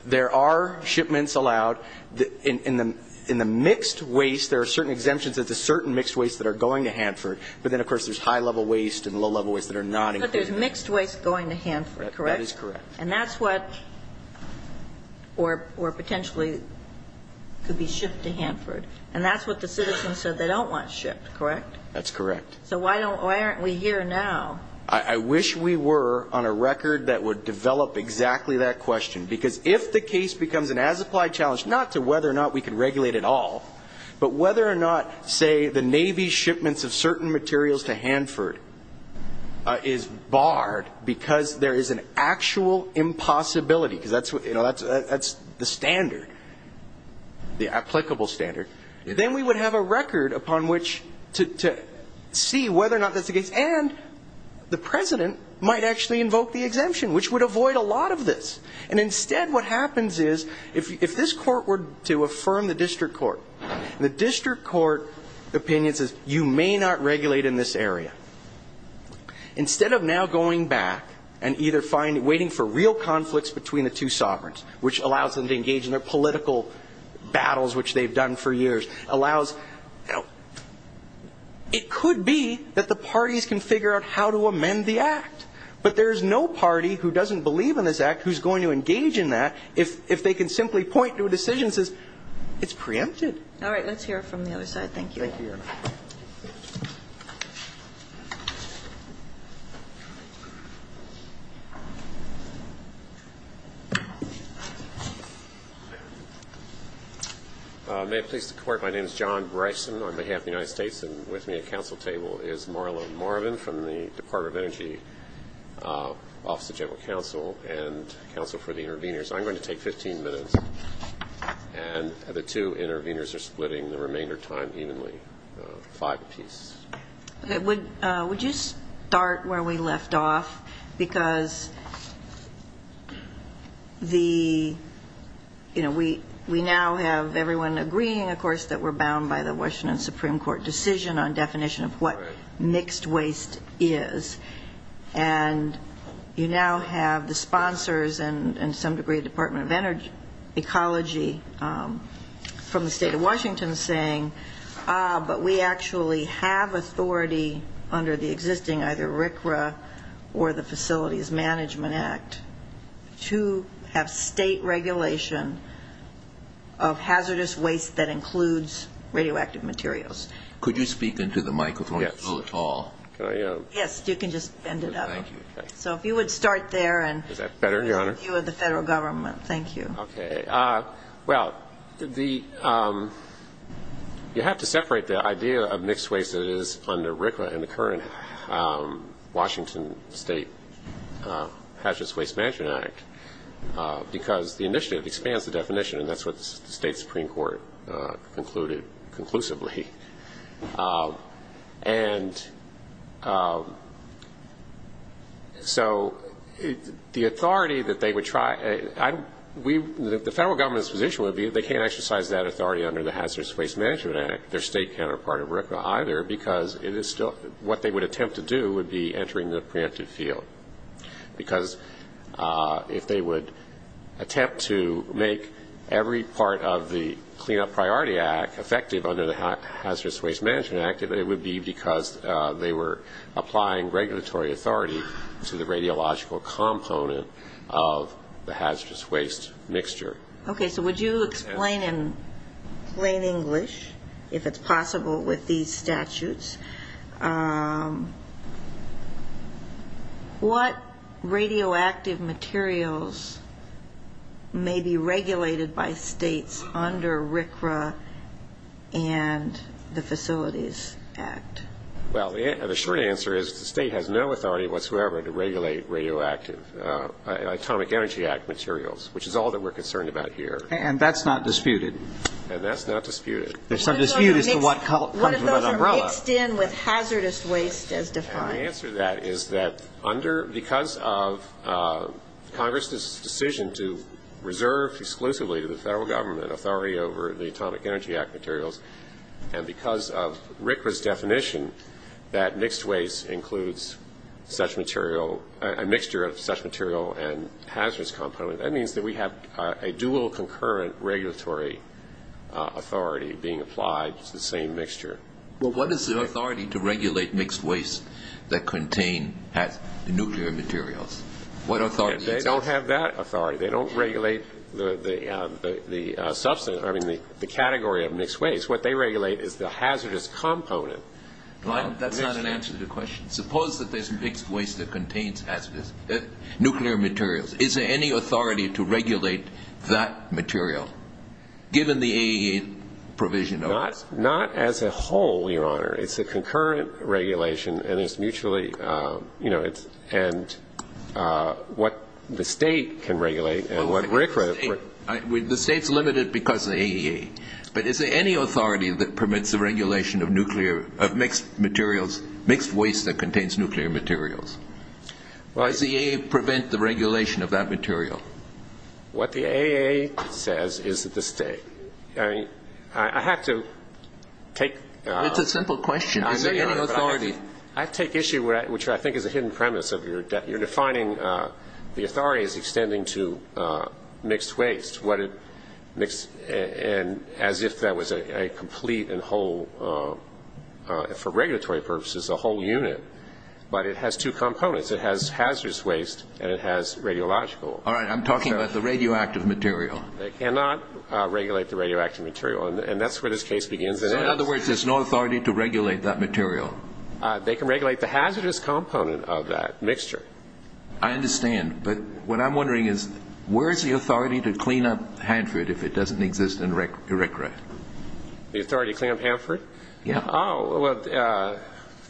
There are shipments allowed. In the mixed waste, there are certain exemptions that there's certain mixed waste that are going to Hanford. But then, of course, there's high-level waste and low-level waste that are not included. But there's mixed waste going to Hanford, correct? That is correct. And that's what, or potentially could be shipped to Hanford. And that's what the citizens said they don't want shipped, correct? So why aren't we here now? I wish we were on a record that would develop exactly that question. Because if the case becomes an as-applied challenge, not to whether or not we can regulate at all, but whether or not, say, the Navy shipments of certain materials to Hanford is barred because there is an actual impossibility, because that's the standard, the applicable standard, then we would have a record upon which to see whether or not that's the case. And the president might actually invoke the exemption, which would avoid a lot of this. And instead, what happens is, if this court were to affirm the district court, the district court's opinion is, you may not regulate in this area. Instead of now going back and either finding, waiting for real conflicts between the two sovereigns, which allows them to engage in their political battles, which they've done for years, which allows... It could be that the parties can figure out how to amend the Act. But there's no party who doesn't believe in this Act who's going to engage in that if they can simply point to a decision that says, it's preempted. All right, let's hear it from the other side. Thank you. Thank you. May I please declare my name is John Bryson on behalf of the United States, and with me at council table is Marlon Marvin from the Department of Energy, Office of General Counsel, and counsel for the intervenors. and the two intervenors are splitting the remainder of time evenly in five pieces. Would you start where we left off? Because... we now have everyone agreeing, of course, that we're bound by the Washington Supreme Court decision on definition of what mixed waste is, and you now have the sponsors and some degree of Department of Energy, Ecology from the state of Washington saying, but we actually have authority under the existing either RCRA or the Facilities Management Act to have state regulation of hazardous waste that includes radioactive materials. Could you speak into the microphone? We have a little tall. Yes, you can just end it up. So if you would start there and... Is that better, Your Honor? You are the federal government. Thank you. Okay. Well, the... You have to separate the idea of mixed waste that is under RCRA and the current Washington State Hazardous Waste Management Act because the initiative expands the definition, and that's what the state Supreme Court concluded conclusively. And... So the authority that they would try... The federal government's position would be they can't exercise that authority under the Hazardous Waste Management Act, their state counterpart of RCRA either, because it is still... What they would attempt to do would be entering the preemptive field because if they would attempt to make every part of the Cleanup Priority Act effective under the Hazardous Waste Management Act, it would be because they were applying regulatory authority to the radiological component of the hazardous waste mixture. Okay. So would you explain in plain English, if it's possible with these statutes, what radioactive materials may be regulated by states under RCRA and the Facilities Act? Well, the short answer is the state has no authority whatsoever to regulate radioactive... Atomic Energy Act materials, which is all that we're concerned about here. And that's not disputed. And that's not disputed. It's a dispute as to what comes with an umbrella. What is mixed in with hazardous waste as defined? And the answer to that is that because of Congress's decision to reserve exclusively to the federal government authority over the Atomic Energy Act materials, and because of RCRA's definition that mixed waste includes such material, a mixture of such material and hazardous components, that means that we have a dual concurrent regulatory authority being applied to the same mixture. Well, what is the authority to regulate mixed waste that contain nuclear materials? They don't have that authority. They don't regulate the substance... I mean, the category of mixed waste. What they regulate is the hazardous component. That doesn't answer the question. Suppose that there's mixed waste that contains hazardous nuclear materials. Is there any authority to regulate that material given the AEA provision of it? Not as a whole, Your Honor. It's a concurrent regulation, and it's mutually... What the state can regulate and what RCRA... The state's limited because of the AEA. But is there any authority that permits the regulation of mixed materials, mixed waste that contains nuclear materials? Why does the AEA prevent the regulation of that material? What the AEA says is that the state... I mean, I have to take... It's a simple question. Is there any authority? I take issue with that, which I think is a hidden premise of your... You're defining... The authority is extending to mixed waste, what it... And as if that was a complete and whole... For regulatory purposes, a whole unit. But it has two components. It has hazardous waste, and it has radiological. All right, I'm talking about the radioactive material. They cannot regulate the radioactive material, and that's where this case begins. In other words, there's no authority to regulate that material. They can regulate the hazardous component of that mixture. I understand. But what I'm wondering is, where is the authority to clean up Hanford if it doesn't exist in Recre? The authority to clean up Hanford? Yeah. Oh, well,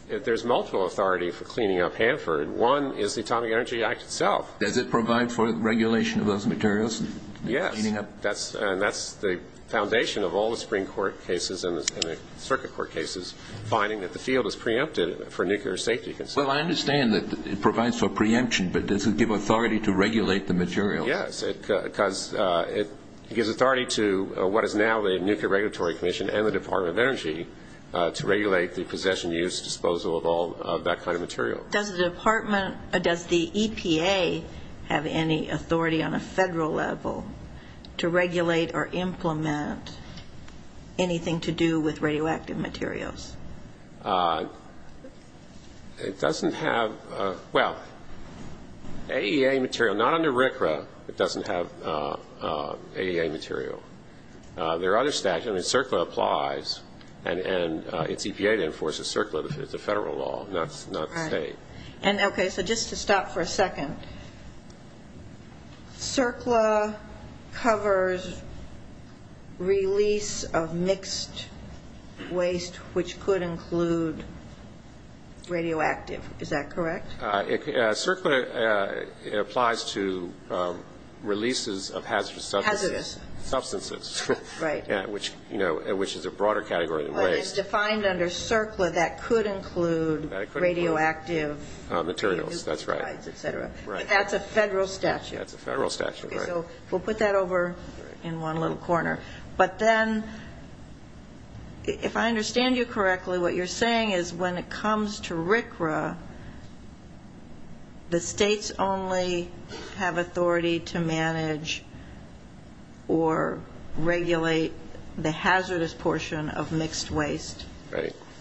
there's multiple authority for cleaning up Hanford. One is the Atomic Energy Act itself. Does it provide for regulation of those materials? Yeah. And that's the foundation of all the Supreme Court cases and the Circuit Court cases, finding that the field is preempted for nuclear safety concerns. Well, I understand that it provides for preemption, but does it give authority to regulate the material? Yes. It gives authority to what is now the Nuclear Regulatory Commission and the Department of Energy to regulate the possession, use, disposal of all that kind of material. Does the EPA have any authority on a federal level to regulate or implement anything to do with radioactive materials? It doesn't have, well, AEA material, not under Recre, it doesn't have AEA material. There are other statutes, and CERCLA applies, and it's EPA that enforces CERCLA because it's a federal law, not state. And, okay, so just to stop for a second, CERCLA covers release of mixed waste, which could include radioactive, is that correct? CERCLA applies to releases of hazardous substances, which is a broader category than waste. But it's defined under CERCLA that could include radioactive materials. That's right. That's a federal statute. That's a federal statute, right. We'll put that over in one little corner. But then, if I understand you correctly, what you're saying is when it comes to RCRA, the states only have authority to manage or regulate the hazardous portion of mixed waste,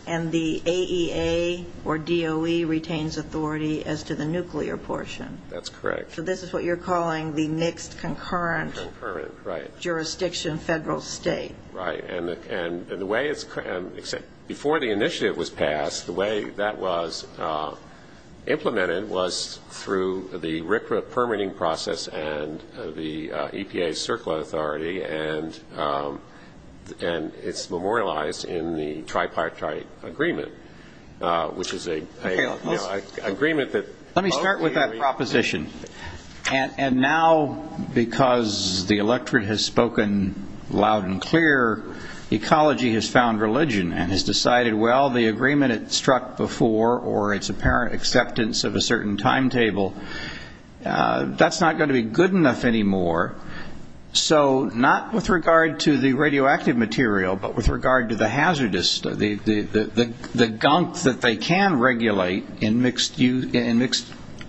and the AEA or DOE retains authority as to the nuclear portion. That's correct. So this is what you're calling the mixed concurrent jurisdiction federal state. Right. And the way it's, before the initiative was passed, the way that was implemented was through the RCRA permitting process and the EPA CERCLA authority, and it's memorialized in the tripartite agreement, which is an agreement that only has one state. Let me start with that proposition. And now, because the electorate has spoken loud and clear, ecology has found religion and has decided, well, the agreement it struck before or its apparent acceptance of a certain timetable, that's not going to be good enough anymore. So not with regard to the radioactive material, but with regard to the hazardous, the gunk that they can regulate in mixed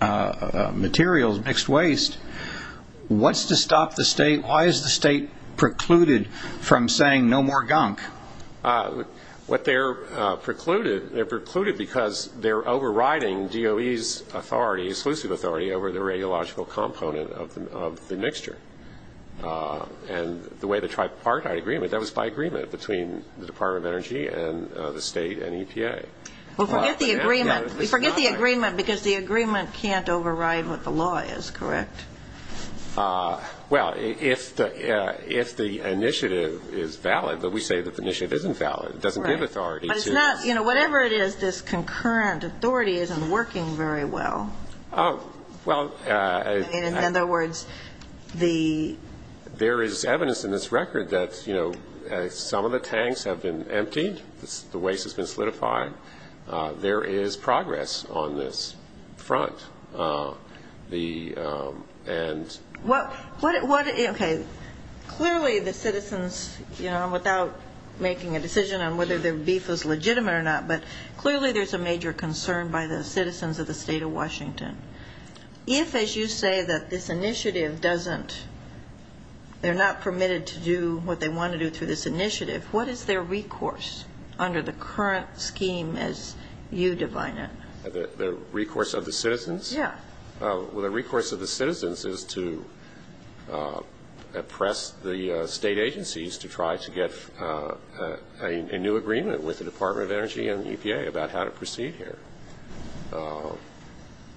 materials, mixed waste, what's to stop the state, why is the state precluded from saying no more gunk? What they're precluded, they're precluded because they're overriding DOE's authority, the exclusive authority over the radiological component of the mixture. And the way the tripartite agreement, that was by agreement between the Department of Energy and the state and EPA. Well, forget the agreement, forget the agreement because the agreement can't override what the law is, correct? Well, if the initiative is valid, but we say that the initiative isn't valid, it doesn't give authority. But it's not, you know, whatever it is, this concurrent authority isn't working very well. Oh, well. In other words, the... There is evidence in this record that, you know, some of the tanks have been emptied, the waste has been solidified. There is progress on this front. The, and... What, what, okay, clearly the citizens, you know, without making a decision on whether their beef is legitimate or not, but clearly there's a major concern by the citizens of the state of Washington. If, as you say, that this initiative doesn't, they're not permitted to do what they want to do through this initiative, what is their recourse under the current scheme as you define it? The recourse of the citizens? Yeah. Well, the recourse of the citizens is to oppress the state agencies to try to get a new agreement with the Department of Energy and EPA about how to proceed here.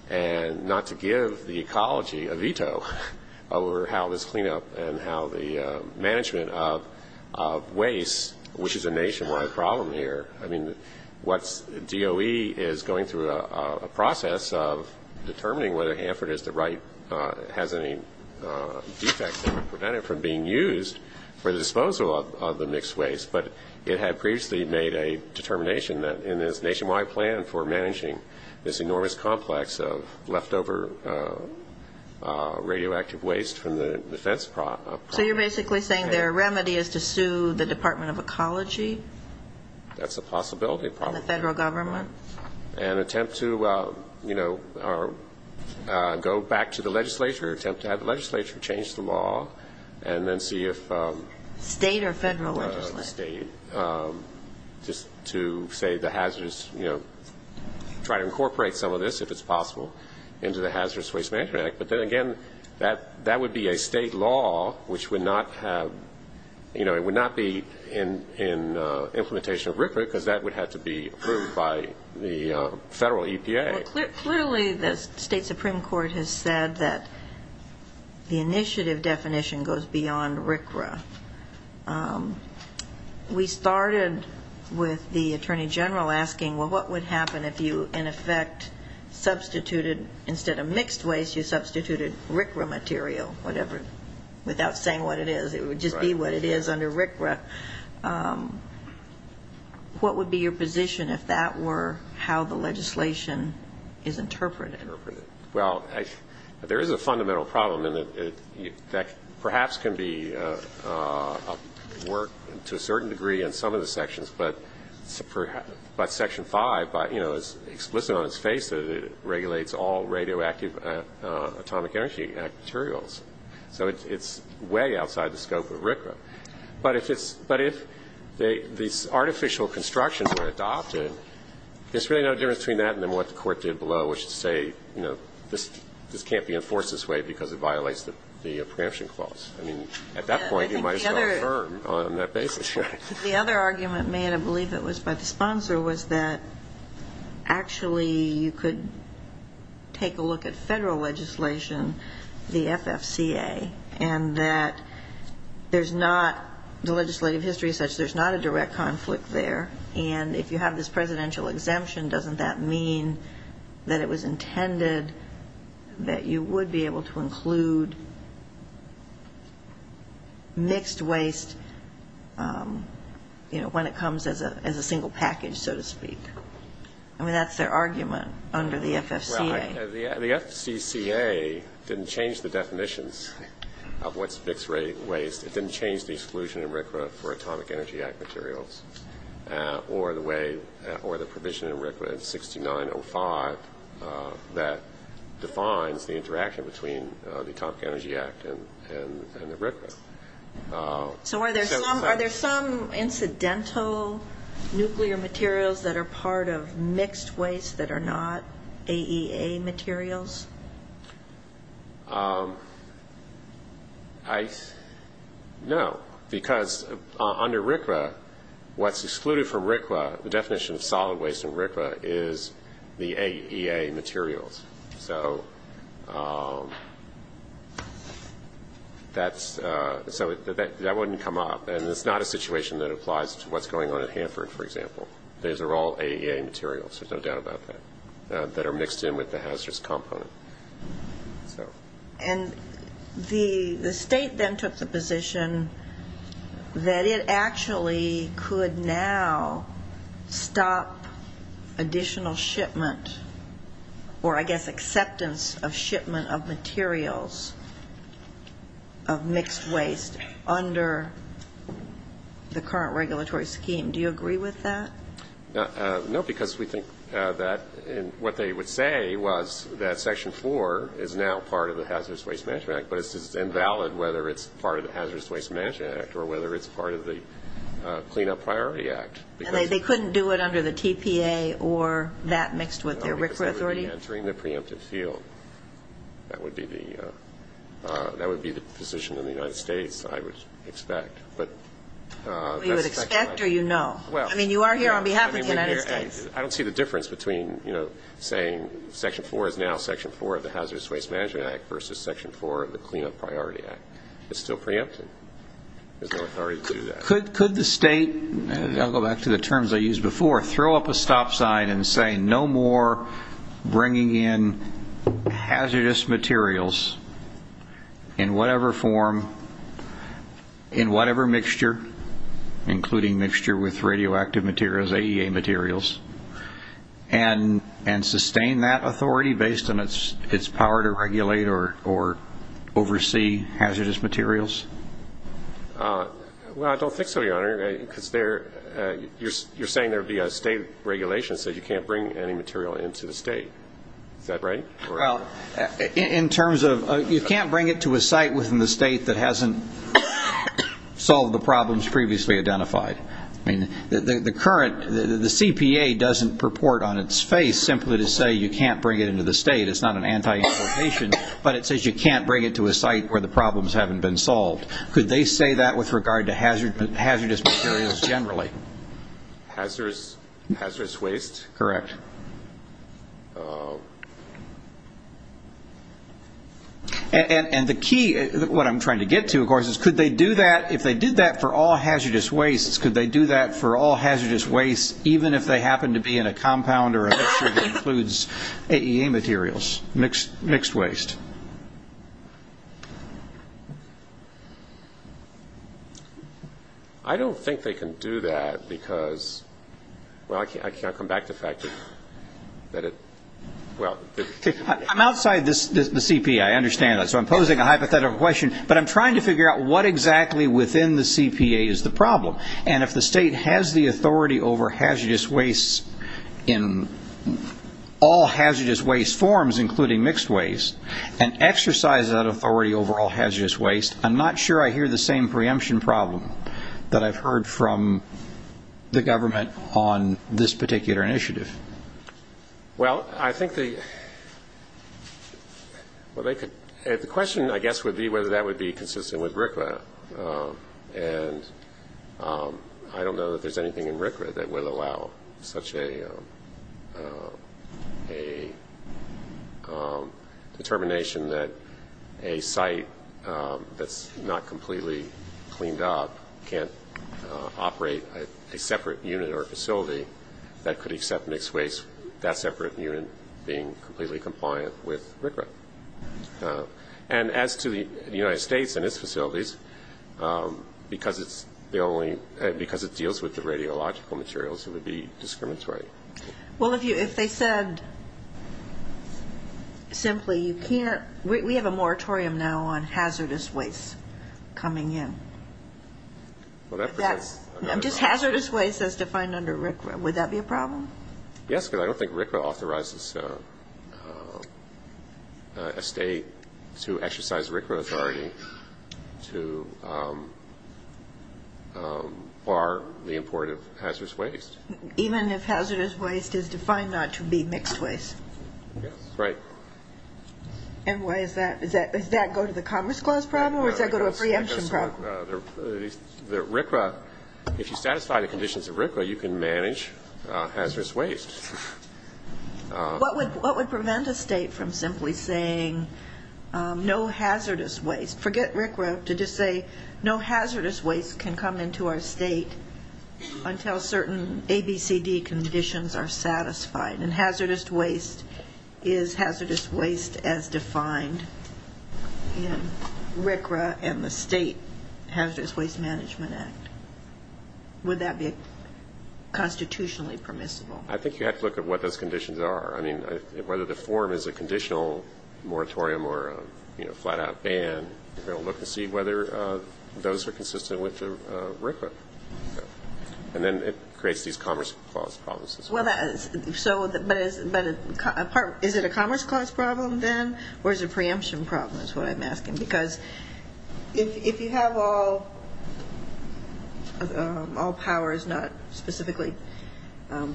And not to give the ecology a veto over how this cleanup and how the management of waste, which is a nationwide problem here. I mean, what DOE is going through a process of determining whether Hanford is the right, has any defects in preventing it from being used for the disposal of the mixed waste. But it had previously made a determination that in its nationwide plan for managing this enormous complex of leftover radioactive waste from the fence crop. So you're basically saying their remedy is to sue the Department of Ecology? That's a possibility, probably. The federal government? And attempt to, you know, go back to the legislature, attempt to have the legislature change the law, and then see if the state, just to say the hazardous, you know, try to incorporate some of this if it's possible into the Hazardous Waste Management Act. But then again, that would be a state law, which would not have, you know, it would not be in implementation of RCRA because that would have to be approved by the federal EPA. Clearly, the State Supreme Court has said that the initiative definition goes beyond RCRA. We started with the Attorney General asking, well, what would happen if you, in effect, substituted instead of mixed waste, you substituted RCRA material, whatever, without saying what it is? It would just be what it is under RCRA. What would be your position if that were how the legislation is interpreted? Well, there is a fundamental problem that perhaps can be worked to a certain degree in some of the sections, but Section 5, you know, is explicit on its face that it regulates all radioactive atomic energy materials. So it's way outside the scope of RCRA. But if these artificial constructions were adopted, there's really no difference between that and what the court did below, which is to say, you know, this can't be enforced this way because it violates the preemption clause. I mean, at that point, you might as well adjourn on that basis. The other argument made, I believe it was by the sponsor, was that actually you could take a look at federal legislation, the FFCA, and that there's not, the legislative history says there's not a direct conflict there. And if you have this presidential exemption, doesn't that mean that it was intended that you would be able to include mixed waste, you know, when it comes as a single package, so to speak? I mean, that's their argument under the FFCA. Well, the FCCA didn't change the definitions of what's mixed waste. It didn't change the exclusion in RCRA for Atomic Energy Act materials or the way, or the provision in RCRA in 6905 that defines the interaction between the Atomic Energy Act and RCRA. So are there some incidental nuclear materials that are part of mixed waste that are not AEA materials? No, because under RCRA, what's excluded from RCRA, the definition of solid waste in RCRA is the AEA materials. So that's, so that wouldn't come up, and it's not a situation that applies to what's going on at Hanford, for example. Those are all AEA materials, there's no doubt about that, that are mixed in with the hazardous component. And the state then took the position that it actually could now stop additional shipment, or I guess acceptance of shipment of materials of mixed waste under the current regulatory scheme. Do you agree with that? No, because we think that, and what they would say was that Session 4 is now part of the Hazardous Waste Management Act, but it's invalid whether it's part of the Hazardous Waste Management Act or whether it's part of the Cleanup Priority Act. And they couldn't do it under the TPA or that mixed with their RCRA authority? It would be entering the preemptive field. That would be the position in the United States, I would expect. You would expect or you know? I mean, you are here on behalf of the United States. I don't see the difference between, you know, saying Session 4 is now Section 4 of the Hazardous Waste Management Act versus Section 4 of the Cleanup Priority Act. It's still preemptive. There's no authority to do that. Could the state, I'll go back to the terms I used before, throw up a stop sign and say no more bringing in hazardous materials in whatever form, in whatever mixture, including mixture with radioactive materials, AEA materials, and sustain that authority based on its power to regulate or oversee hazardous materials? Well, I don't think so, Your Honor, because you're saying there would be a state regulation that says you can't bring any material into the state. Is that right? Well, in terms of you can't bring it to a site within the state that hasn't solved the problems previously identified. I mean, the current, the CPA doesn't purport on its face simply to say you can't bring it into the state. It's not an anti-intervention, but it says you can't bring it to a site where the problems haven't been solved. Could they say that with regard to hazardous materials generally? Hazardous wastes? Correct. And the key, what I'm trying to get to, of course, is could they do that, if they did that for all hazardous wastes, could they do that for all hazardous wastes, even if they happen to be in a compound or a mixture that includes AEA materials, mixed waste? I don't think they can do that because, well, I can't come back to the fact that it, well, I'm outside the CPA, I understand that, so I'm posing a hypothetical question, but I'm trying to figure out what exactly within the CPA is the problem, and if the state has the authority over hazardous wastes in all hazardous waste forms, including mixed waste, and exercises that authority over all hazardous wastes, I'm not sure I hear the same preemption problem that I've heard from the government on this particular initiative. The question, I guess, would be whether that would be consistent with RIPA, and I don't know that there's anything in RIPA that would allow such a determination that a site that's not completely cleaned up can't operate a separate unit or facility that could accept mixed waste, that separate unit being completely compliant with RIPA. And as to the United States and its facilities, because it's the only, and because it deals with the radiological materials, it would be discriminatory. Well, if they said simply you can't, we have a moratorium now on hazardous waste coming in. Just hazardous waste that's defined under RIPA, would that be a problem? Yes, but I don't think RIPA authorizes a state to exercise RIPA authority to bar the import of hazardous waste. Even if hazardous waste is defined not to be mixed waste? Right. And why is that? Does that go to the Commerce Clause problem, or does that go to a preemption problem? The RIPA, if you satisfy the conditions of RIPA, you can manage hazardous waste. What would prevent a state from simply saying no hazardous waste? Forget RCRA to just say no hazardous waste can come into our state until certain ABCD conditions are satisfied. And hazardous waste is hazardous waste as defined in RCRA and the state Hazardous Waste Management Act. Would that be constitutionally permissible? I think you have to look at what those conditions are. I mean, whether the form is a conditional moratorium or a flat-out ban, you've got to look and see whether those are consistent with your RIPA. And then it creates these Commerce Clause problems. Is it a Commerce Clause problem then, or is it a preemption problem, is what I'm asking? Because if you have all powers not specifically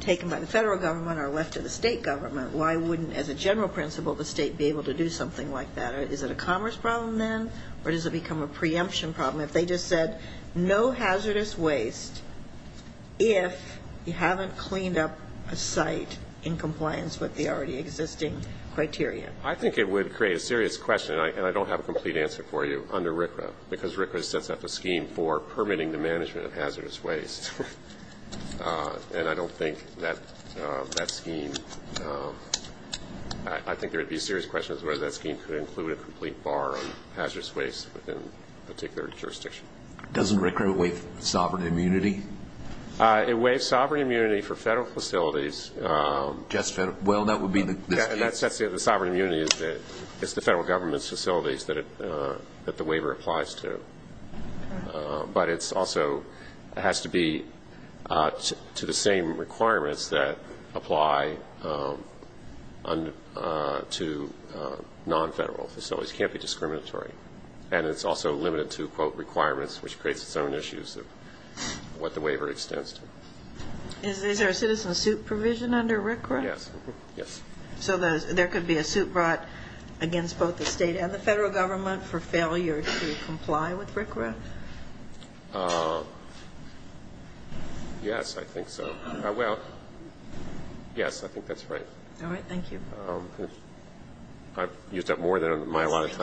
taken by the federal government or left to the state government, why wouldn't, as a general principle, the state be able to do something like that? Is it a Commerce problem then, or does it become a preemption problem if they just said no hazardous waste if you haven't cleaned up a site in compliance with the already existing criteria? I think it would create a serious question, and I don't have a complete answer for you under RIPA, because RIPA sets up a scheme for permitting the management of hazardous waste. And I don't think that scheme – I think there would be a serious question as to whether that scheme could include a complete bar on hazardous waste within a particular jurisdiction. Doesn't RIPA waive sovereign immunity? It waives sovereign immunity for federal facilities. Just federal – well, that would be the – and that sets up the sovereign immunity. It's the federal government's facilities that the waiver applies to. But it also has to be to the same requirements that apply to non-federal facilities. It can't be discriminatory. And it's also limited to, quote, requirements, which creates its own issues of what the waiver extends to. Is there a citizen suit provision under RCRA? Yes. So there could be a suit brought against both the state and the federal government for failure to comply with RCRA? Yes, I think so. Yes, I think that's right. All right. Thank you. I've used that more than in my life.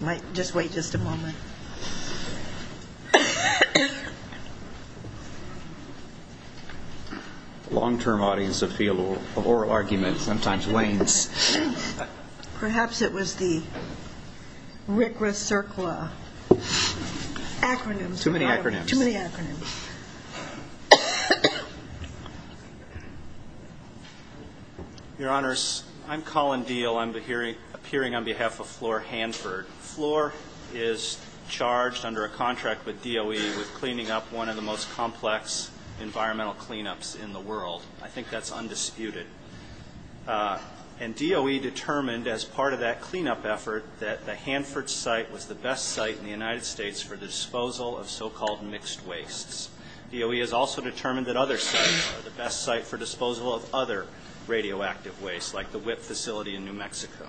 Mike, just wait just a moment. A long-term audience will feel the oral argument sometimes wanes. Perhaps it was the RCRA-CIRCLA acronym. Too many acronyms. Too many acronyms. Your Honors, I'm Colin Deal. I'm appearing on behalf of Floor Hanford. Floor is charged under a contract with DOE with cleaning up one of the most complex environmental cleanups in the world. I think that's undisputed. And DOE determined as part of that cleanup effort that the Hanford site was the best site in the United States for the disposal of so-called mixed wastes. DOE has also determined that other sites are the best site for disposal of other radioactive wastes, like the WIP facility in New Mexico.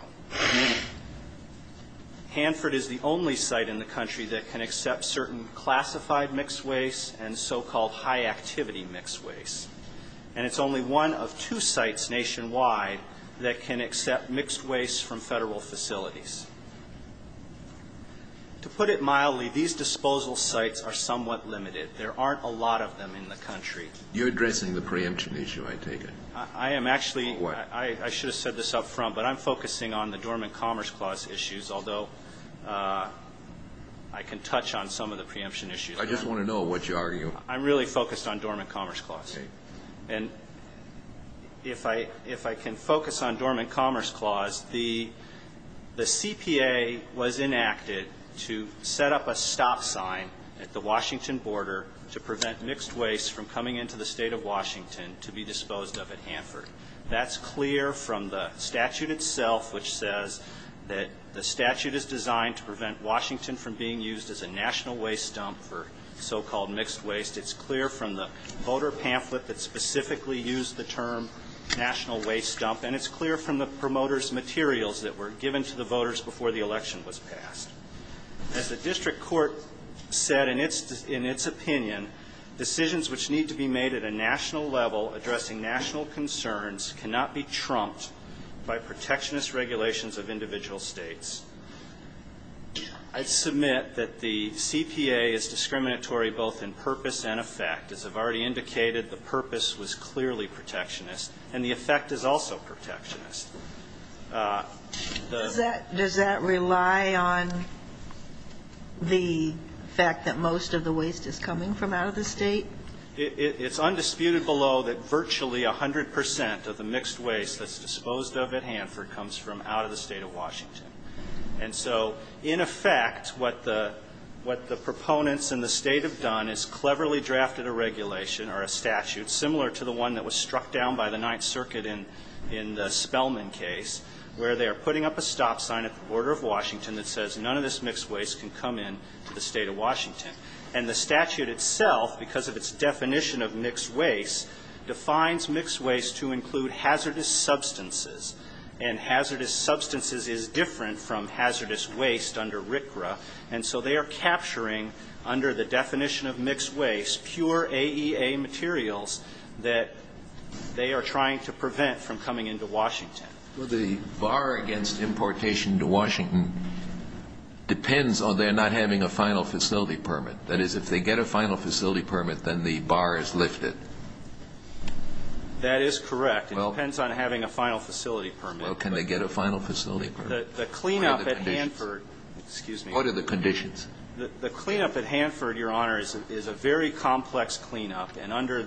Hanford is the only site in the country that can accept certain classified mixed wastes and so-called high-activity mixed wastes. And it's only one of two sites nationwide that can accept mixed wastes from federal facilities. To put it mildly, these disposal sites are somewhat limited. There aren't a lot of them in the country. You're addressing the preemption issue, I take it. I should have said this up front, but I'm focusing on the Dormant Commerce Clause issues, although I can touch on some of the preemption issues. I just want to know what you're arguing. I'm really focused on Dormant Commerce Clause. And if I can focus on Dormant Commerce Clause, the CPA was enacted to set up a stop sign at the Washington border to prevent mixed wastes from coming into the state of Washington to be disposed of at Hanford. That's clear from the statute itself, which says that the statute is designed to prevent Washington from being used as a national waste dump for so-called mixed wastes. It's clear from the voter pamphlet that specifically used the term national waste dump. And it's clear from the promoter's materials that were given to the voters before the election was passed. As the district court said in its opinion, decisions which need to be made at a national level addressing national concerns cannot be trumped by protectionist regulations of individual states. I submit that the CPA is discriminatory both in purpose and effect. As I've already indicated, the purpose was clearly protectionist, and the effect is also protectionist. Does that rely on the fact that most of the waste is coming from out of the state? It's undisputed below that virtually 100% of the mixed waste that's disposed of at Hanford comes from out of the state of Washington. And so, in effect, what the proponents in the state have done is cleverly drafted a regulation or a statute similar to the one that was struck down by the Ninth Circuit in the Spellman case, where they're putting up a stop sign at the border of Washington that says none of this mixed waste can come into the state of Washington. And the statute itself, because of its definition of mixed waste, defines mixed waste to include hazardous substances. And hazardous substances is different from hazardous waste under RCRA. And so they are capturing, under the definition of mixed waste, pure AEA materials that they are trying to prevent from coming into Washington. The bar against importation to Washington depends on their not having a final facility permit. That is, if they get a final facility permit, then the bar is lifted. That is correct. It depends on having a final facility permit. Well, can they get a final facility permit? The cleanup at Hanford... Excuse me. What are the conditions? The cleanup at Hanford, Your Honor, is a very complex cleanup. And under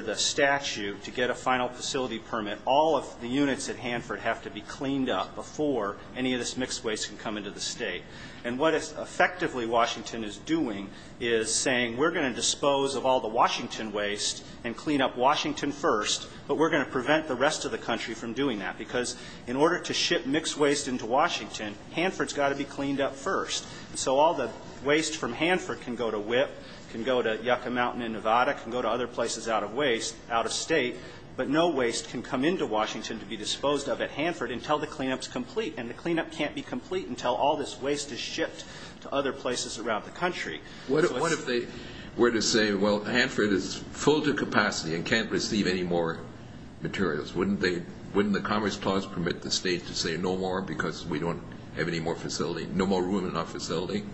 the statute, to get a final facility permit, all of the units at Hanford have to be cleaned up before any of this mixed waste can come into the state. And what effectively Washington is doing is saying we're going to dispose of all the Washington waste and clean up Washington first, but we're going to prevent the rest of the country from doing that. Because in order to ship mixed waste into Washington, Hanford's got to be cleaned up first. So all the waste from Hanford can go to WIPP, can go to Yucca Mountain in Nevada, can go to other places out of state, but no waste can come into Washington to be disposed of at Hanford until the cleanup's complete. And the cleanup can't be complete until all this waste is shipped to other places around the country. What if they were to say, well, Hanford is full to capacity and can't receive any more materials? Wouldn't the Commerce Clause permit the state to say no more because we don't have any more facility, no more room in our facility?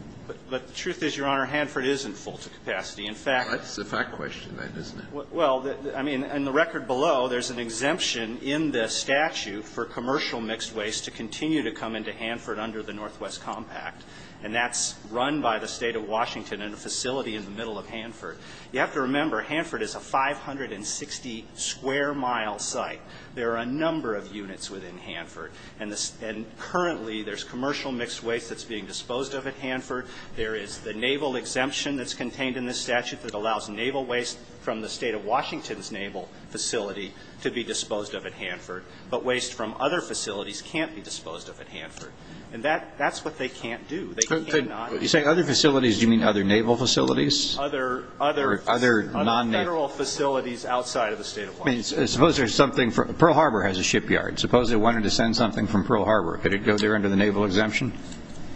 But the truth is, Your Honor, Hanford isn't full to capacity. In fact... That's a bad question, then, isn't it? Well, I mean, in the record below, there's an exemption in this statute for commercial mixed waste to continue to come into Hanford under the Northwest Compact. And that's run by the state of Washington in a facility in the middle of Hanford. You have to remember, Hanford is a 560-square-mile site. There are a number of units within Hanford. And currently, there's commercial mixed waste that's being disposed of at Hanford. There is the naval exemption that's contained in this statute that allows naval waste from the state of Washington's naval facility to be disposed of at Hanford. But waste from other facilities can't be disposed of at Hanford. And that's what they can't do. You say other facilities. Do you mean other naval facilities? Other non-naval... Federal facilities outside of the state of Washington. Suppose there's something... Pearl Harbor has a shipyard. Suppose they wanted to send something from Pearl Harbor. Could it go there under the naval exemption?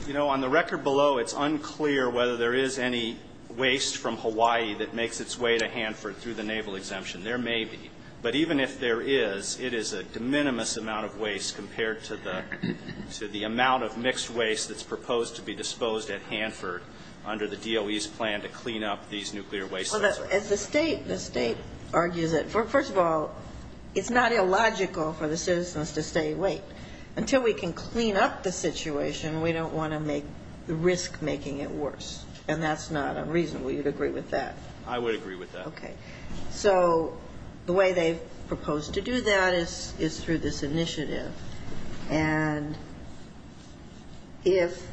You know, on the record below, it's unclear whether there is any waste from Hawaii that makes its way to Hanford through the naval exemption. There may be. But even if there is, it is a de minimis amount of waste compared to the amount of mixed waste that's proposed to be disposed at Hanford under the DOE's plan to clean up these nuclear waste. The state argues that, first of all, it's not illogical for the citizens to say, wait, until we can clean up the situation, we don't want to risk making it worse. And that's not a reason we would agree with that. I would agree with that. So the way they propose to do that is through this initiative. And if,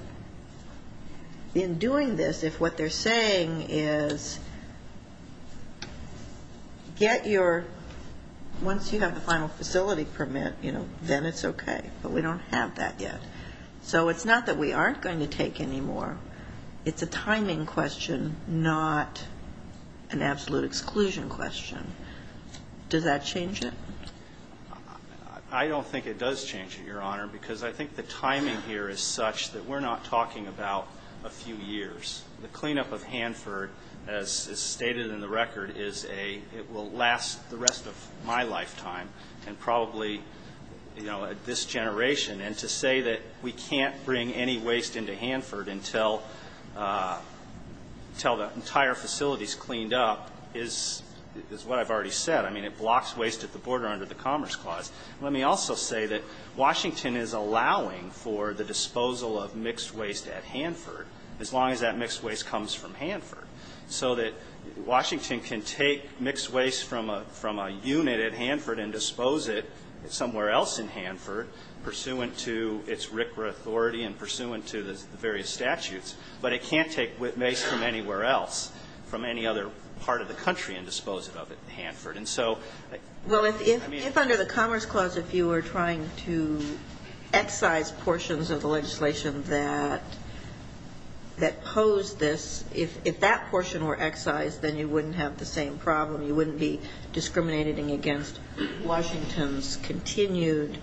in doing this, if what they're saying is get your... Once you have a final facility permit, you know, then it's okay. But we don't have that yet. So it's not that we aren't going to take any more. It's a timing question, not an absolute exclusion question. Does that change it? I don't think it does change it, Your Honor, because I think the timing here is such that we're not talking about a few years. The cleanup of Hanford, as stated in the record, will last the rest of my lifetime and probably this generation. And to say that we can't bring any waste into Hanford until the entire facility is cleaned up is what I've already said. I mean, it blocks waste at the border under the Commerce Clause. Let me also say that Washington is allowing for the disposal of mixed waste at Hanford as long as that mixed waste comes from Hanford. So that Washington can take mixed waste from a unit at Hanford and dispose it somewhere else in Hanford pursuant to its RCRA authority and pursuant to the various statutes, but it can't take waste from anywhere else, from any other part of the country, and dispose it of it in Hanford. Well, if under the Commerce Clause, if you were trying to excise portions of the legislation that pose this, if that portion were excised, then you wouldn't have the same problem. You wouldn't be discriminating against Washington's continued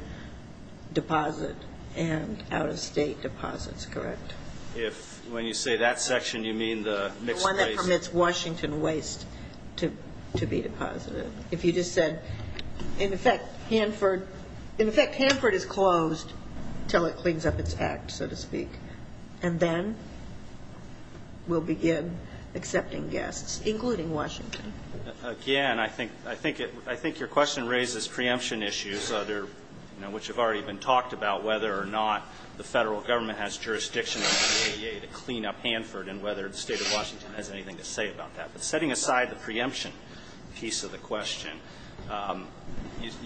deposit and out-of-state deposits, correct? When you say that section, you mean the mixed waste? The one that permits Washington waste to be deposited. If you just said, in effect, Hanford is closed until it clings up its act, so to speak. And then we'll begin accepting guests, including Washington. Again, I think your question raises preemption issues, which have already been talked about, whether or not the federal government has jurisdiction in the ADA to clean up Hanford and whether the state of Washington has anything to say about that. But setting aside the preemption piece of the question,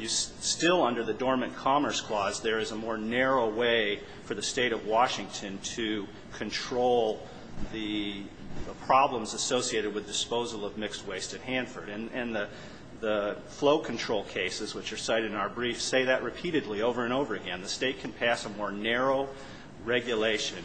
still under the Dormant Commerce Clause, there is a more narrow way for the state of Washington to control the problems associated with disposal of mixed waste at Hanford. And the flow control cases, which are cited in our brief, say that repeatedly, over and over again. The state can pass a more narrow regulation.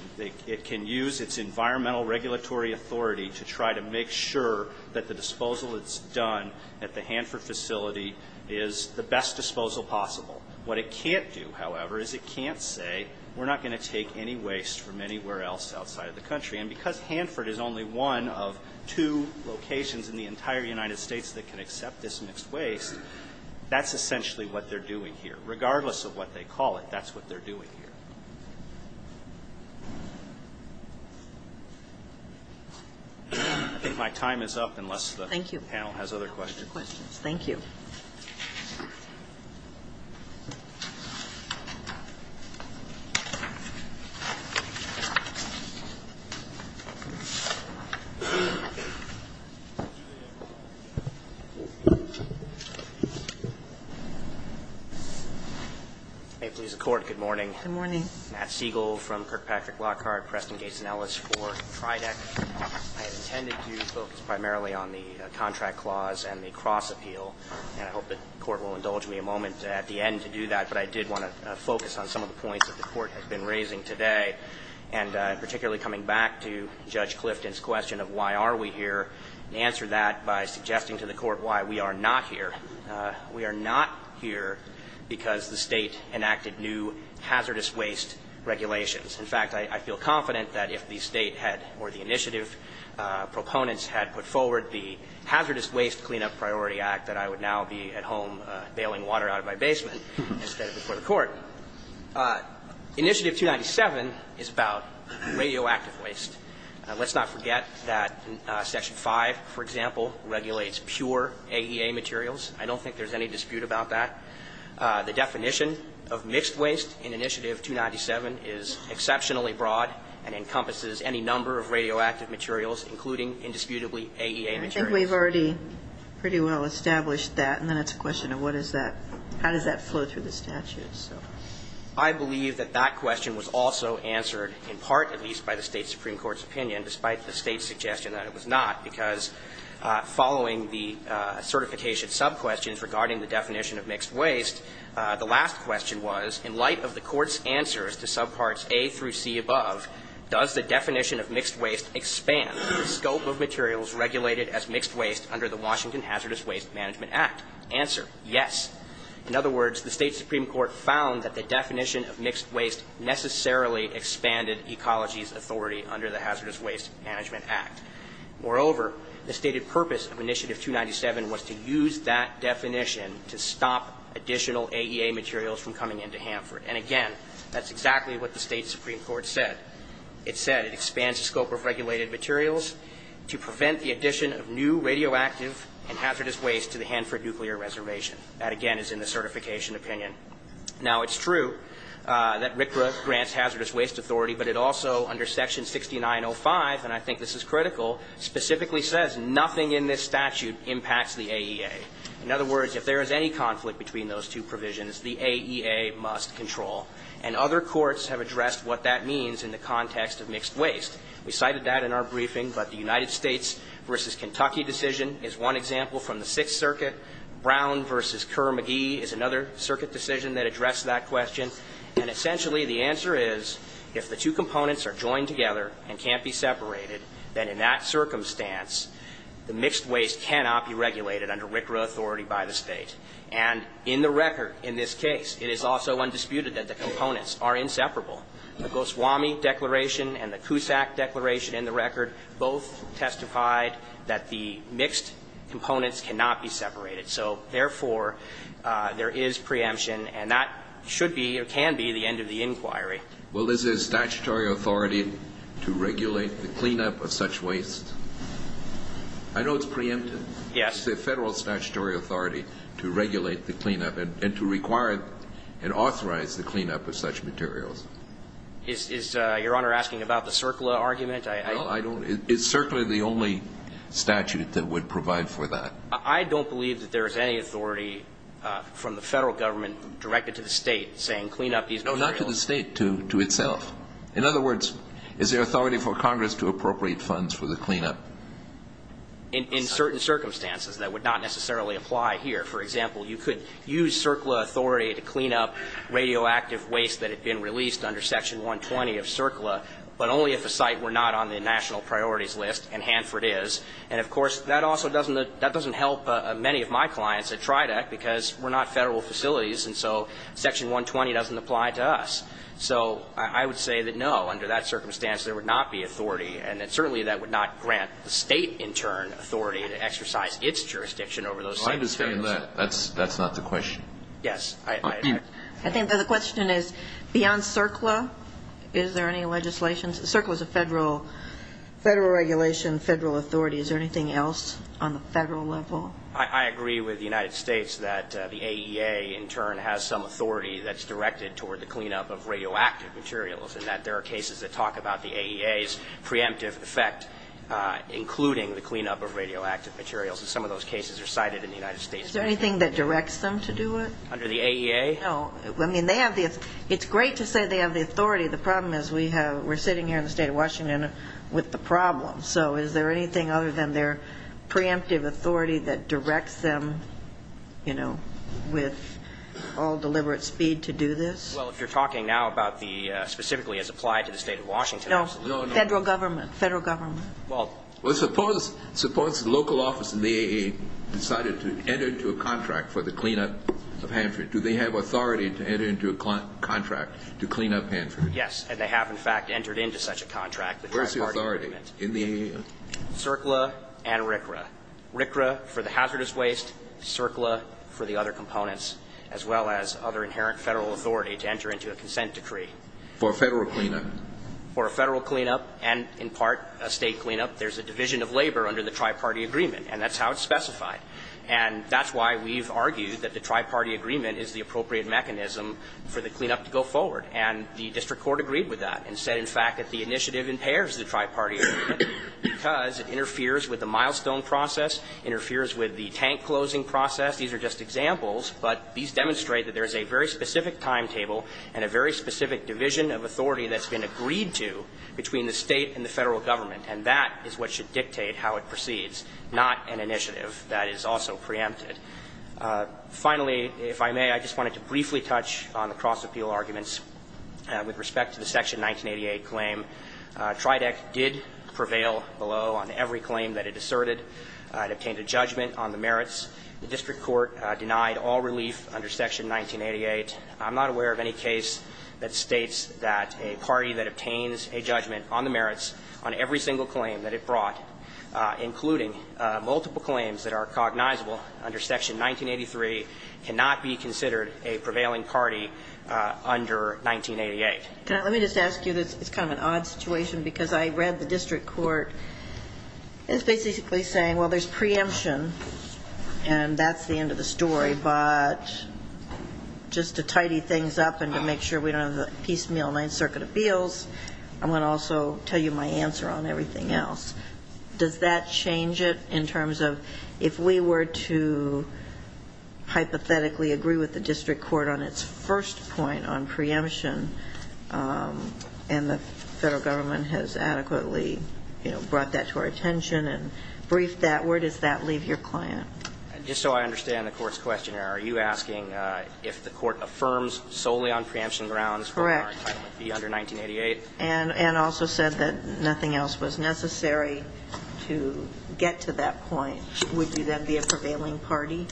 It can use its environmental regulatory authority to try to make sure that the disposal that's done at the Hanford facility is the best disposal possible. What it can't do, however, is it can't say, we're not going to take any waste from anywhere else outside of the country. And because Hanford is only one of two locations in the entire United States that can accept this mixed waste, that's essentially what they're doing here. Regardless of what they call it, that's what they're doing here. I think my time is up, unless the panel has other questions. Thank you. Thank you. May it please the Court, good morning. Good morning. Matt Siegel from Kirkpatrick Lockhart, Preston Gates, and Ellis for Tridex. I intended to focus primarily on the Contract Clause and the Cross Appeal. And I hope that the Court will indulge me a moment at the end to do that. But I did want to focus on some of the points that the Court has been raising today, and particularly coming back to Judge Clifton's question of why are we here, and answer that by suggesting to the Court why we are not here. We are not here because the state enacted new hazardous waste regulations. In fact, I feel confident that if the state had, or the initiative proponents had put forward the Hazardous Waste Cleanup Priority Act, that I would now be at home bailing water out of my basement instead of before the Court. Initiative 297 is about radioactive waste. Let's not forget that Section 5, for example, regulates pure AEA materials. I don't think there's any dispute about that. The definition of mixed waste in Initiative 297 is exceptionally broad and encompasses any number of radioactive materials, including indisputably AEA materials. I think we've already pretty well established that, and then it's a question of how does that flow through the statute. I believe that that question was also answered, in part at least, by the state Supreme Court's opinion, despite the state's suggestion that it was not. Because following the certification sub-questions regarding the definition of mixed waste, the last question was, in light of the Court's answers to subparts A through C above, does the definition of mixed waste expand the scope of materials regulated as mixed waste under the Washington Hazardous Waste Management Act? Answer, yes. In other words, the state Supreme Court found that the definition of mixed waste necessarily expanded ecology's authority under the Hazardous Waste Management Act. Moreover, the stated purpose of Initiative 297 was to use that definition to stop additional AEA materials from coming into Hanford. Again, that's exactly what the state Supreme Court said. It said it expands the scope of regulated materials to prevent the addition of new radioactive and hazardous waste to the Hanford Nuclear Reservation. That, again, is in the certification opinion. Now, it's true that RCRA grants hazardous waste authority, but it also, under Section 6905, and I think this is critical, specifically says nothing in this statute impacts the AEA. In other words, if there is any conflict between those two provisions, the AEA must control. And other courts have addressed what that means in the context of mixed waste. We cited that in our briefing, but the United States versus Kentucky decision is one example from the Sixth Circuit. Brown versus Kerr-McGee is another circuit decision that addressed that question. And essentially, the answer is, if the two components are joined together and can't be separated, then in that circumstance, the mixed waste cannot be regulated under RCRA authority by the state. And in the record, in this case, it is also undisputed that the components are inseparable. The Goswami Declaration and the CUSAC Declaration in the record both testified that the mixed components cannot be separated. So, therefore, there is preemption, and that should be or can be the end of the inquiry. Well, is there statutory authority to regulate the cleanup of such waste? I know it's preempted. Yes. Is there federal statutory authority to regulate the cleanup and to require and authorize the cleanup of such materials? Is Your Honor asking about the CERCLA argument? No. Is CERCLA the only statute that would provide for that? I don't believe that there is any authority from the federal government directed to the state saying clean up these materials. Not to the state, to itself. In other words, is there authority for Congress to appropriate funds for the cleanup? In certain circumstances, that would not necessarily apply here. For example, you could use CERCLA authority to clean up radioactive waste that had been released under Section 120 of CERCLA, but only if the site were not on the national priorities list, and Hanford is. And, of course, that doesn't help many of my clients at TRIDEC because we're not federal facilities, and so Section 120 doesn't apply to us. So I would say that, no, under that circumstance, there would not be authority, and certainly that would not grant the state, in turn, authority to exercise its jurisdiction over those facilities. I understand that. That's not the question. Yes. I think that the question is, beyond CERCLA, is there any legislation? CERCLA is a federal regulation, federal authority. Is there anything else on the federal level? I agree with the United States that the AEA, in turn, has some authority that's directed toward the cleanup of radioactive materials and that there are cases that talk about the AEA's preemptive effect, including the cleanup of radioactive materials, and some of those cases are cited in the United States. Is there anything that directs them to do it? Under the AEA? No. I mean, it's great to say they have the authority. The problem is we're sitting here in the state of Washington with the problem. So is there anything other than their preemptive authority that directs them, you know, with all deliberate speed to do this? Well, if you're talking now about the specifically as applied to the state of Washington. No, federal government, federal government. Well, suppose the local office in the AEA decided to enter into a contract for the cleanup of hamsters. Do they have authority to enter into a contract to clean up hamsters? Yes, and they have, in fact, entered into such a contract. Where is the authority in the AEA? CERCLA and RCRA. RCRA for the hazardous waste, CERCLA for the other components, as well as other inherent federal authority to enter into a consent decree. For a federal cleanup? For a federal cleanup and, in part, a state cleanup, there's a division of labor under the Tri-Party Agreement, and that's how it's specified. And that's why we've argued that the Tri-Party Agreement is the appropriate mechanism for the cleanup to go forward. And the district court agreed with that and said, in fact, that the initiative impairs the Tri-Party Agreement because it interferes with the milestone process, interferes with the tank-closing process. These are just examples, but these demonstrate that there is a very specific timetable and a very specific division of authority that's been agreed to between the state and the federal government, and that is what should dictate how it proceeds, not an initiative that is also preempted. Finally, if I may, I just wanted to briefly touch on the cross-appeal arguments with respect to the Section 1988 claim. TRIDEC did prevail below on every claim that it asserted. It obtained a judgment on the merits. The district court denied all relief under Section 1988. I'm not aware of any case that states that a party that obtains a judgment on the merits on every single claim that it brought, including multiple claims that are cognizable under Section 1983, cannot be considered a prevailing party under 1988. Let me just ask you this. It's kind of an odd situation because I read the district court and it's basically saying, well, there's preemption, and that's the end of the story, but just to tidy things up and to make sure we don't have a piecemeal in the Ninth Circuit Appeals, I'm going to also tell you my answer on everything else. Does that change it in terms of if we were to hypothetically agree with the district court on its first point on preemption and the federal government has adequately brought that to our attention and briefed that, where does that leave your client? Just so I understand the court's questionnaire, are you asking if the court affirms solely on preemption grounds under 1988? And also said that nothing else was necessary to get to that point. Would you then be a prevailing party?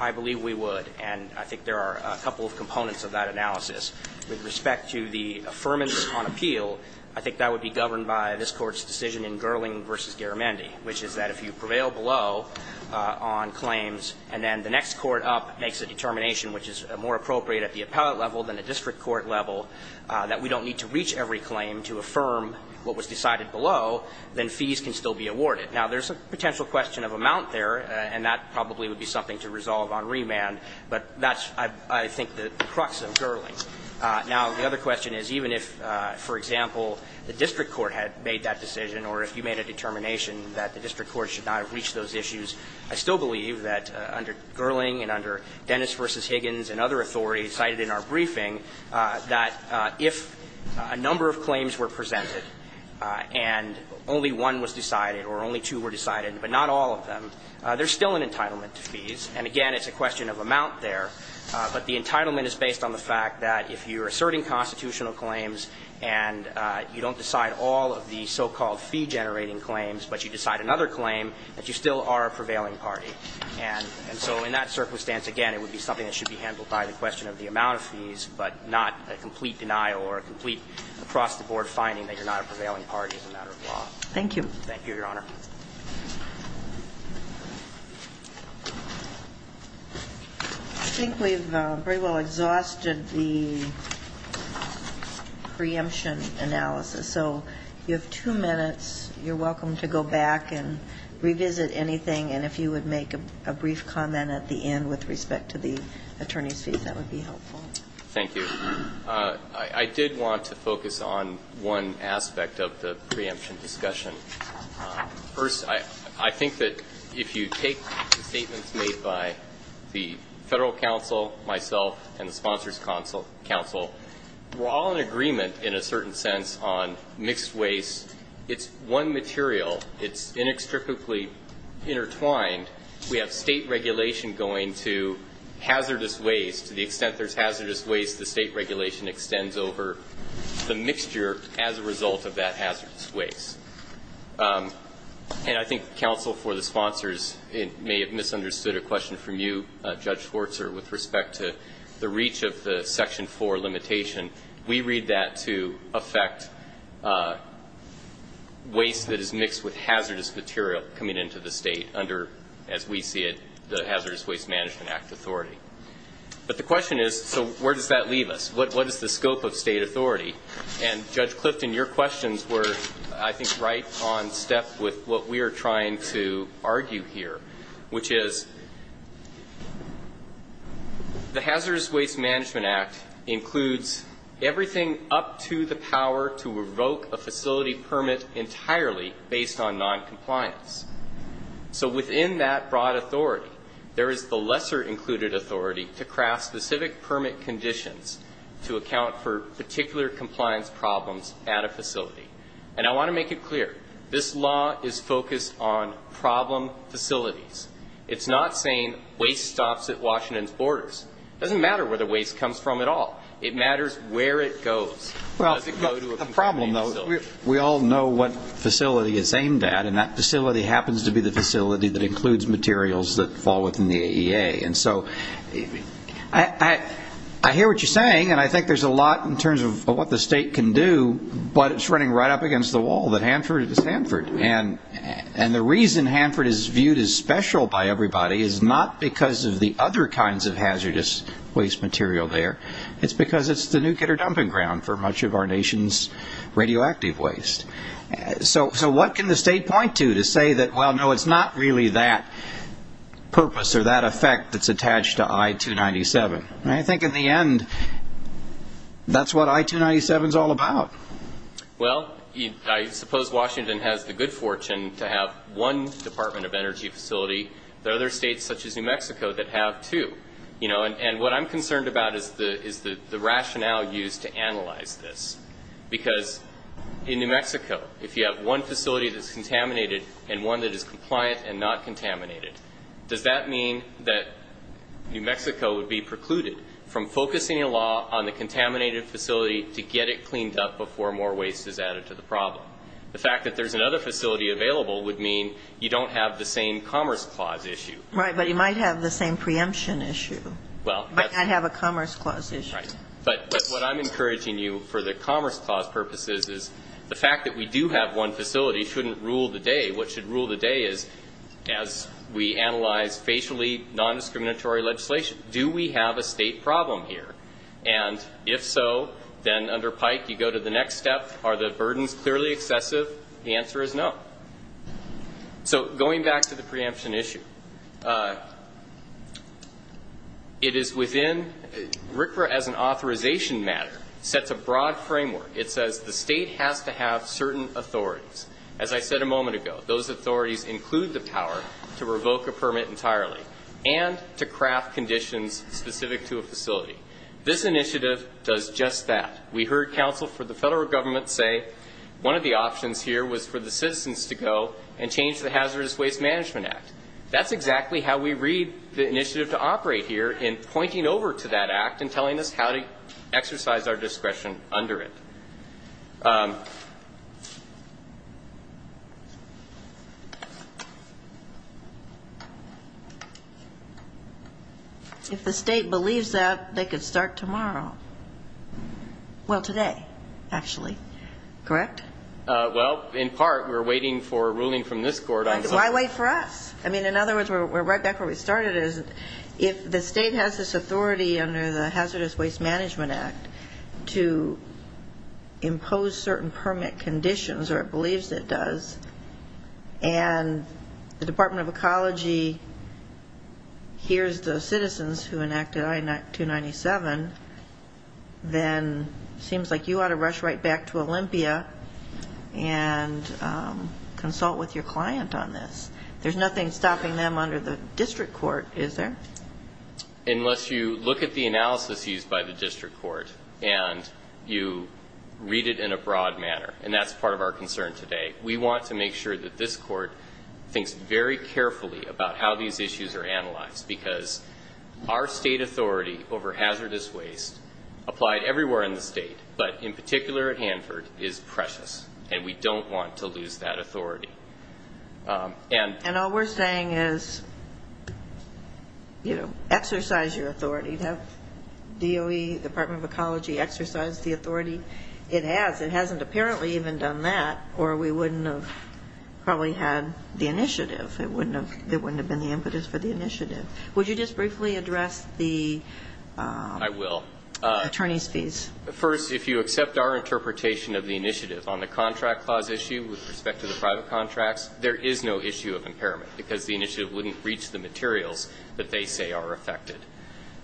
I believe we would, and I think there are a couple of components of that analysis. With respect to the affirmance on appeal, I think that would be governed by this court's decision in Gerling v. Garamendi, which is that if you prevail below on claims and then the next court up makes a determination, which is more appropriate at the appellate level than the district court level, that we don't need to reach every claim to affirm what was decided below, then fees can still be awarded. Now, there's a potential question of amount there, and that probably would be something to resolve on remand, but that's, I think, the crux of Gerling. Now, the other question is even if, for example, the district court had made that decision or if you made a determination that the district court should not have reached those issues, I still believe that under Gerling and under Dennis v. Higgins and other authorities cited in our briefing that if a number of claims were presented and only one was decided or only two were decided but not all of them, there's still an entitlement to fees. And again, it's a question of amount there, but the entitlement is based on the fact that if you're asserting constitutional claims and you don't decide all of the so-called fee-generating claims but you decide another claim, that you still are a prevailing party. And so in that circumstance, again, it would be something that should be handled by the question of the amount of fees but not a complete deny or a complete across-the-board finding that you're not a prevailing party as a matter of law. Thank you. Thank you, Your Honor. I think we've very well exhausted the preemption analysis, so you have two minutes. You're welcome to go back and revisit anything, and if you would make a brief comment at the end with respect to the attorney's seat, that would be helpful. Thank you. I did want to focus on one aspect of the preemption discussion. First, I think that if you take statements made by the federal counsel, myself, and the sponsors' counsel, we're all in agreement in a certain sense on mixed waste. It's one material. It's inextricably intertwined. We have state regulation going to hazardous waste. To the extent there's hazardous waste, the state regulation extends over the mixture as a result of that hazardous waste. And I think counsel for the sponsors may have misunderstood a question from you, Judge Hortzer, with respect to the reach of the Section 4 limitation. We read that to affect waste that is mixed with hazardous material coming into the state under, as we see it, the Hazardous Waste Management Act authority. But the question is, so where does that leave us? What is the scope of state authority? And, Judge Clifton, your questions were, I think, right on step with what we are trying to argue here, which is the Hazardous Waste Management Act includes everything up to the power to revoke a facility permit entirely based on noncompliance. So within that broad authority, there is the lesser included authority to craft specific permit conditions to account for particular compliance problems at a facility. And I want to make it clear, this law is focused on problem facilities. It's not saying waste stops at Washington's borders. It doesn't matter where the waste comes from at all. It matters where it goes. Well, the problem, though, we all know what facility is aimed at, and that facility happens to be the facility that includes materials that fall within the AEA. And so I hear what you're saying, and I think there's a lot in terms of what the state can do, but it's running right up against the wall that Hanford is Hanford. And the reason Hanford is viewed as special by everybody is not because of the other kinds of hazardous waste material there. It's because it's the nuclear dumping ground for much of our nation's radioactive waste. So what can the state point to to say that, well, no, it's not really that purpose or that effect that's attached to I-297? I think, in the end, that's what I-297 is all about. Well, I suppose Washington has the good fortune to have one Department of Energy facility. There are other states, such as New Mexico, that have two. And what I'm concerned about is the rationale used to analyze this, because in New Mexico, if you have one facility that's contaminated and one that is compliant and not contaminated, does that mean that New Mexico would be precluded from focusing a law on the contaminated facility to get it cleaned up before more waste is added to the problem? The fact that there's another facility available would mean you don't have the same Commerce Clause issue. Right, but you might have the same preemption issue. I have a Commerce Clause issue. But what I'm encouraging you, for the Commerce Clause purposes, is the fact that we do have one facility shouldn't rule the day. What should rule the day is, as we analyze spatially nondiscriminatory legislation, do we have a state problem here? And if so, then under PIKE, you go to the next step. Are the burdens clearly excessive? The answer is no. So going back to the preemption issue, it is within RCRA, as an authorization matter, sets a broad framework. It says the state has to have certain authorities. As I said a moment ago, those authorities include the power to revoke a permit entirely and to craft conditions specific to a facility. This initiative does just that. We heard counsel for the federal government say one of the options here was for the citizens to go and change the Hazardous Waste Management Act. That's exactly how we read the initiative to operate here in pointing over to that act and telling us how to exercise our discretion under it. If the state believes that, they could start tomorrow. Well, today, actually. Correct? Well, in part, we're waiting for a ruling from this court. Why wait for us? I mean, in other words, we're right back where we started is if the state has this authority under the Hazardous Waste Management Act to impose certain permit conditions or believes it does, and the Department of Ecology hears the citizens who enacted Act 297, then it seems like you ought to rush right back to Olympia and consult with your client on this. There's nothing stopping them under the district court, is there? Unless you look at the analysis used by the district court and you read it in a broad manner, and that's part of our concern today, we want to make sure that this court thinks very carefully about how these issues are analyzed because our state authority over hazardous waste applied everywhere in the state, but in particular at Hanford, is precious, and we don't want to lose that authority. And all we're saying is exercise your authority. Does DOE, Department of Ecology exercise the authority? It has. It hasn't apparently even done that, or we wouldn't have probably had the initiative. There wouldn't have been the impetus for the initiative. Would you just briefly address the attorneys fees? I will. First, if you accept our interpretation of the initiative on the contract clause issue with respect to the private contracts, there is no issue of impairment because the initiative wouldn't breach the materials that they say are affected.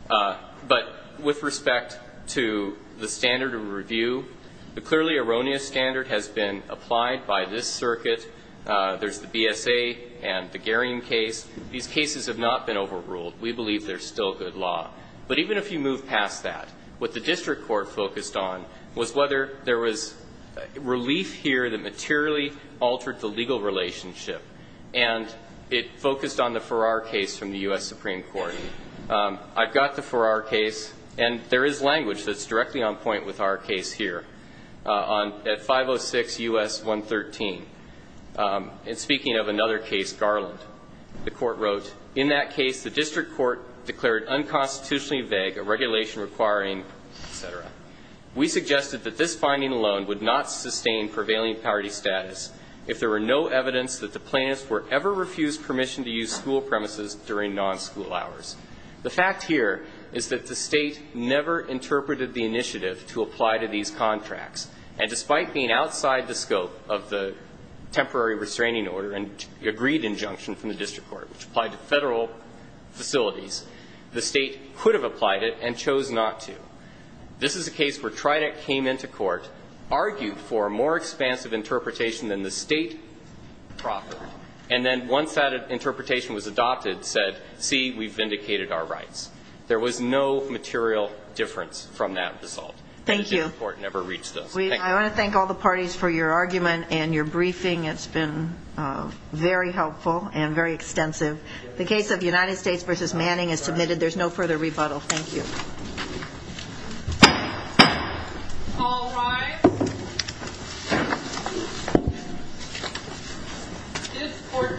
But with respect to the standard of review, the clearly erroneous standard has been applied by this circuit. There's the BSA and the Garing case. These cases have not been overruled. We believe they're still good law. But even if you move past that, what the district court focused on was whether there was relief here that materially altered the legal relationship, and it focused on the Farrar case from the U.S. Supreme Court. I've got the Farrar case, and there is language that's directly on point with our case here, at 506 U.S. 113. And speaking of another case, Garland, the court wrote, in that case, the district court declared unconstitutionally vague, a regulation requiring, et cetera. We suggested that this finding alone would not sustain prevailing parity status if there were no evidence that the plaintiffs were ever refused permission to use school premises during non-school hours. The fact here is that the state never interpreted the initiative to apply to these contracts. And despite being outside the scope of the temporary restraining order and agreed injunction from the district court, which applied to federal facilities, the state could have applied it and chose not to. This is a case where TRIDAC came into court, argued for a more expansive interpretation than the state process, and then once that interpretation was adopted, said, see, we've vindicated our rights. There was no material difference from that result. Thank you. The district court never reached those. I want to thank all the parties for your argument and your briefing. It's been very helpful and very extensive. The case of United States v. Manning is submitted. There's no further rebuttal. Thank you. All rise. This court is adjourned.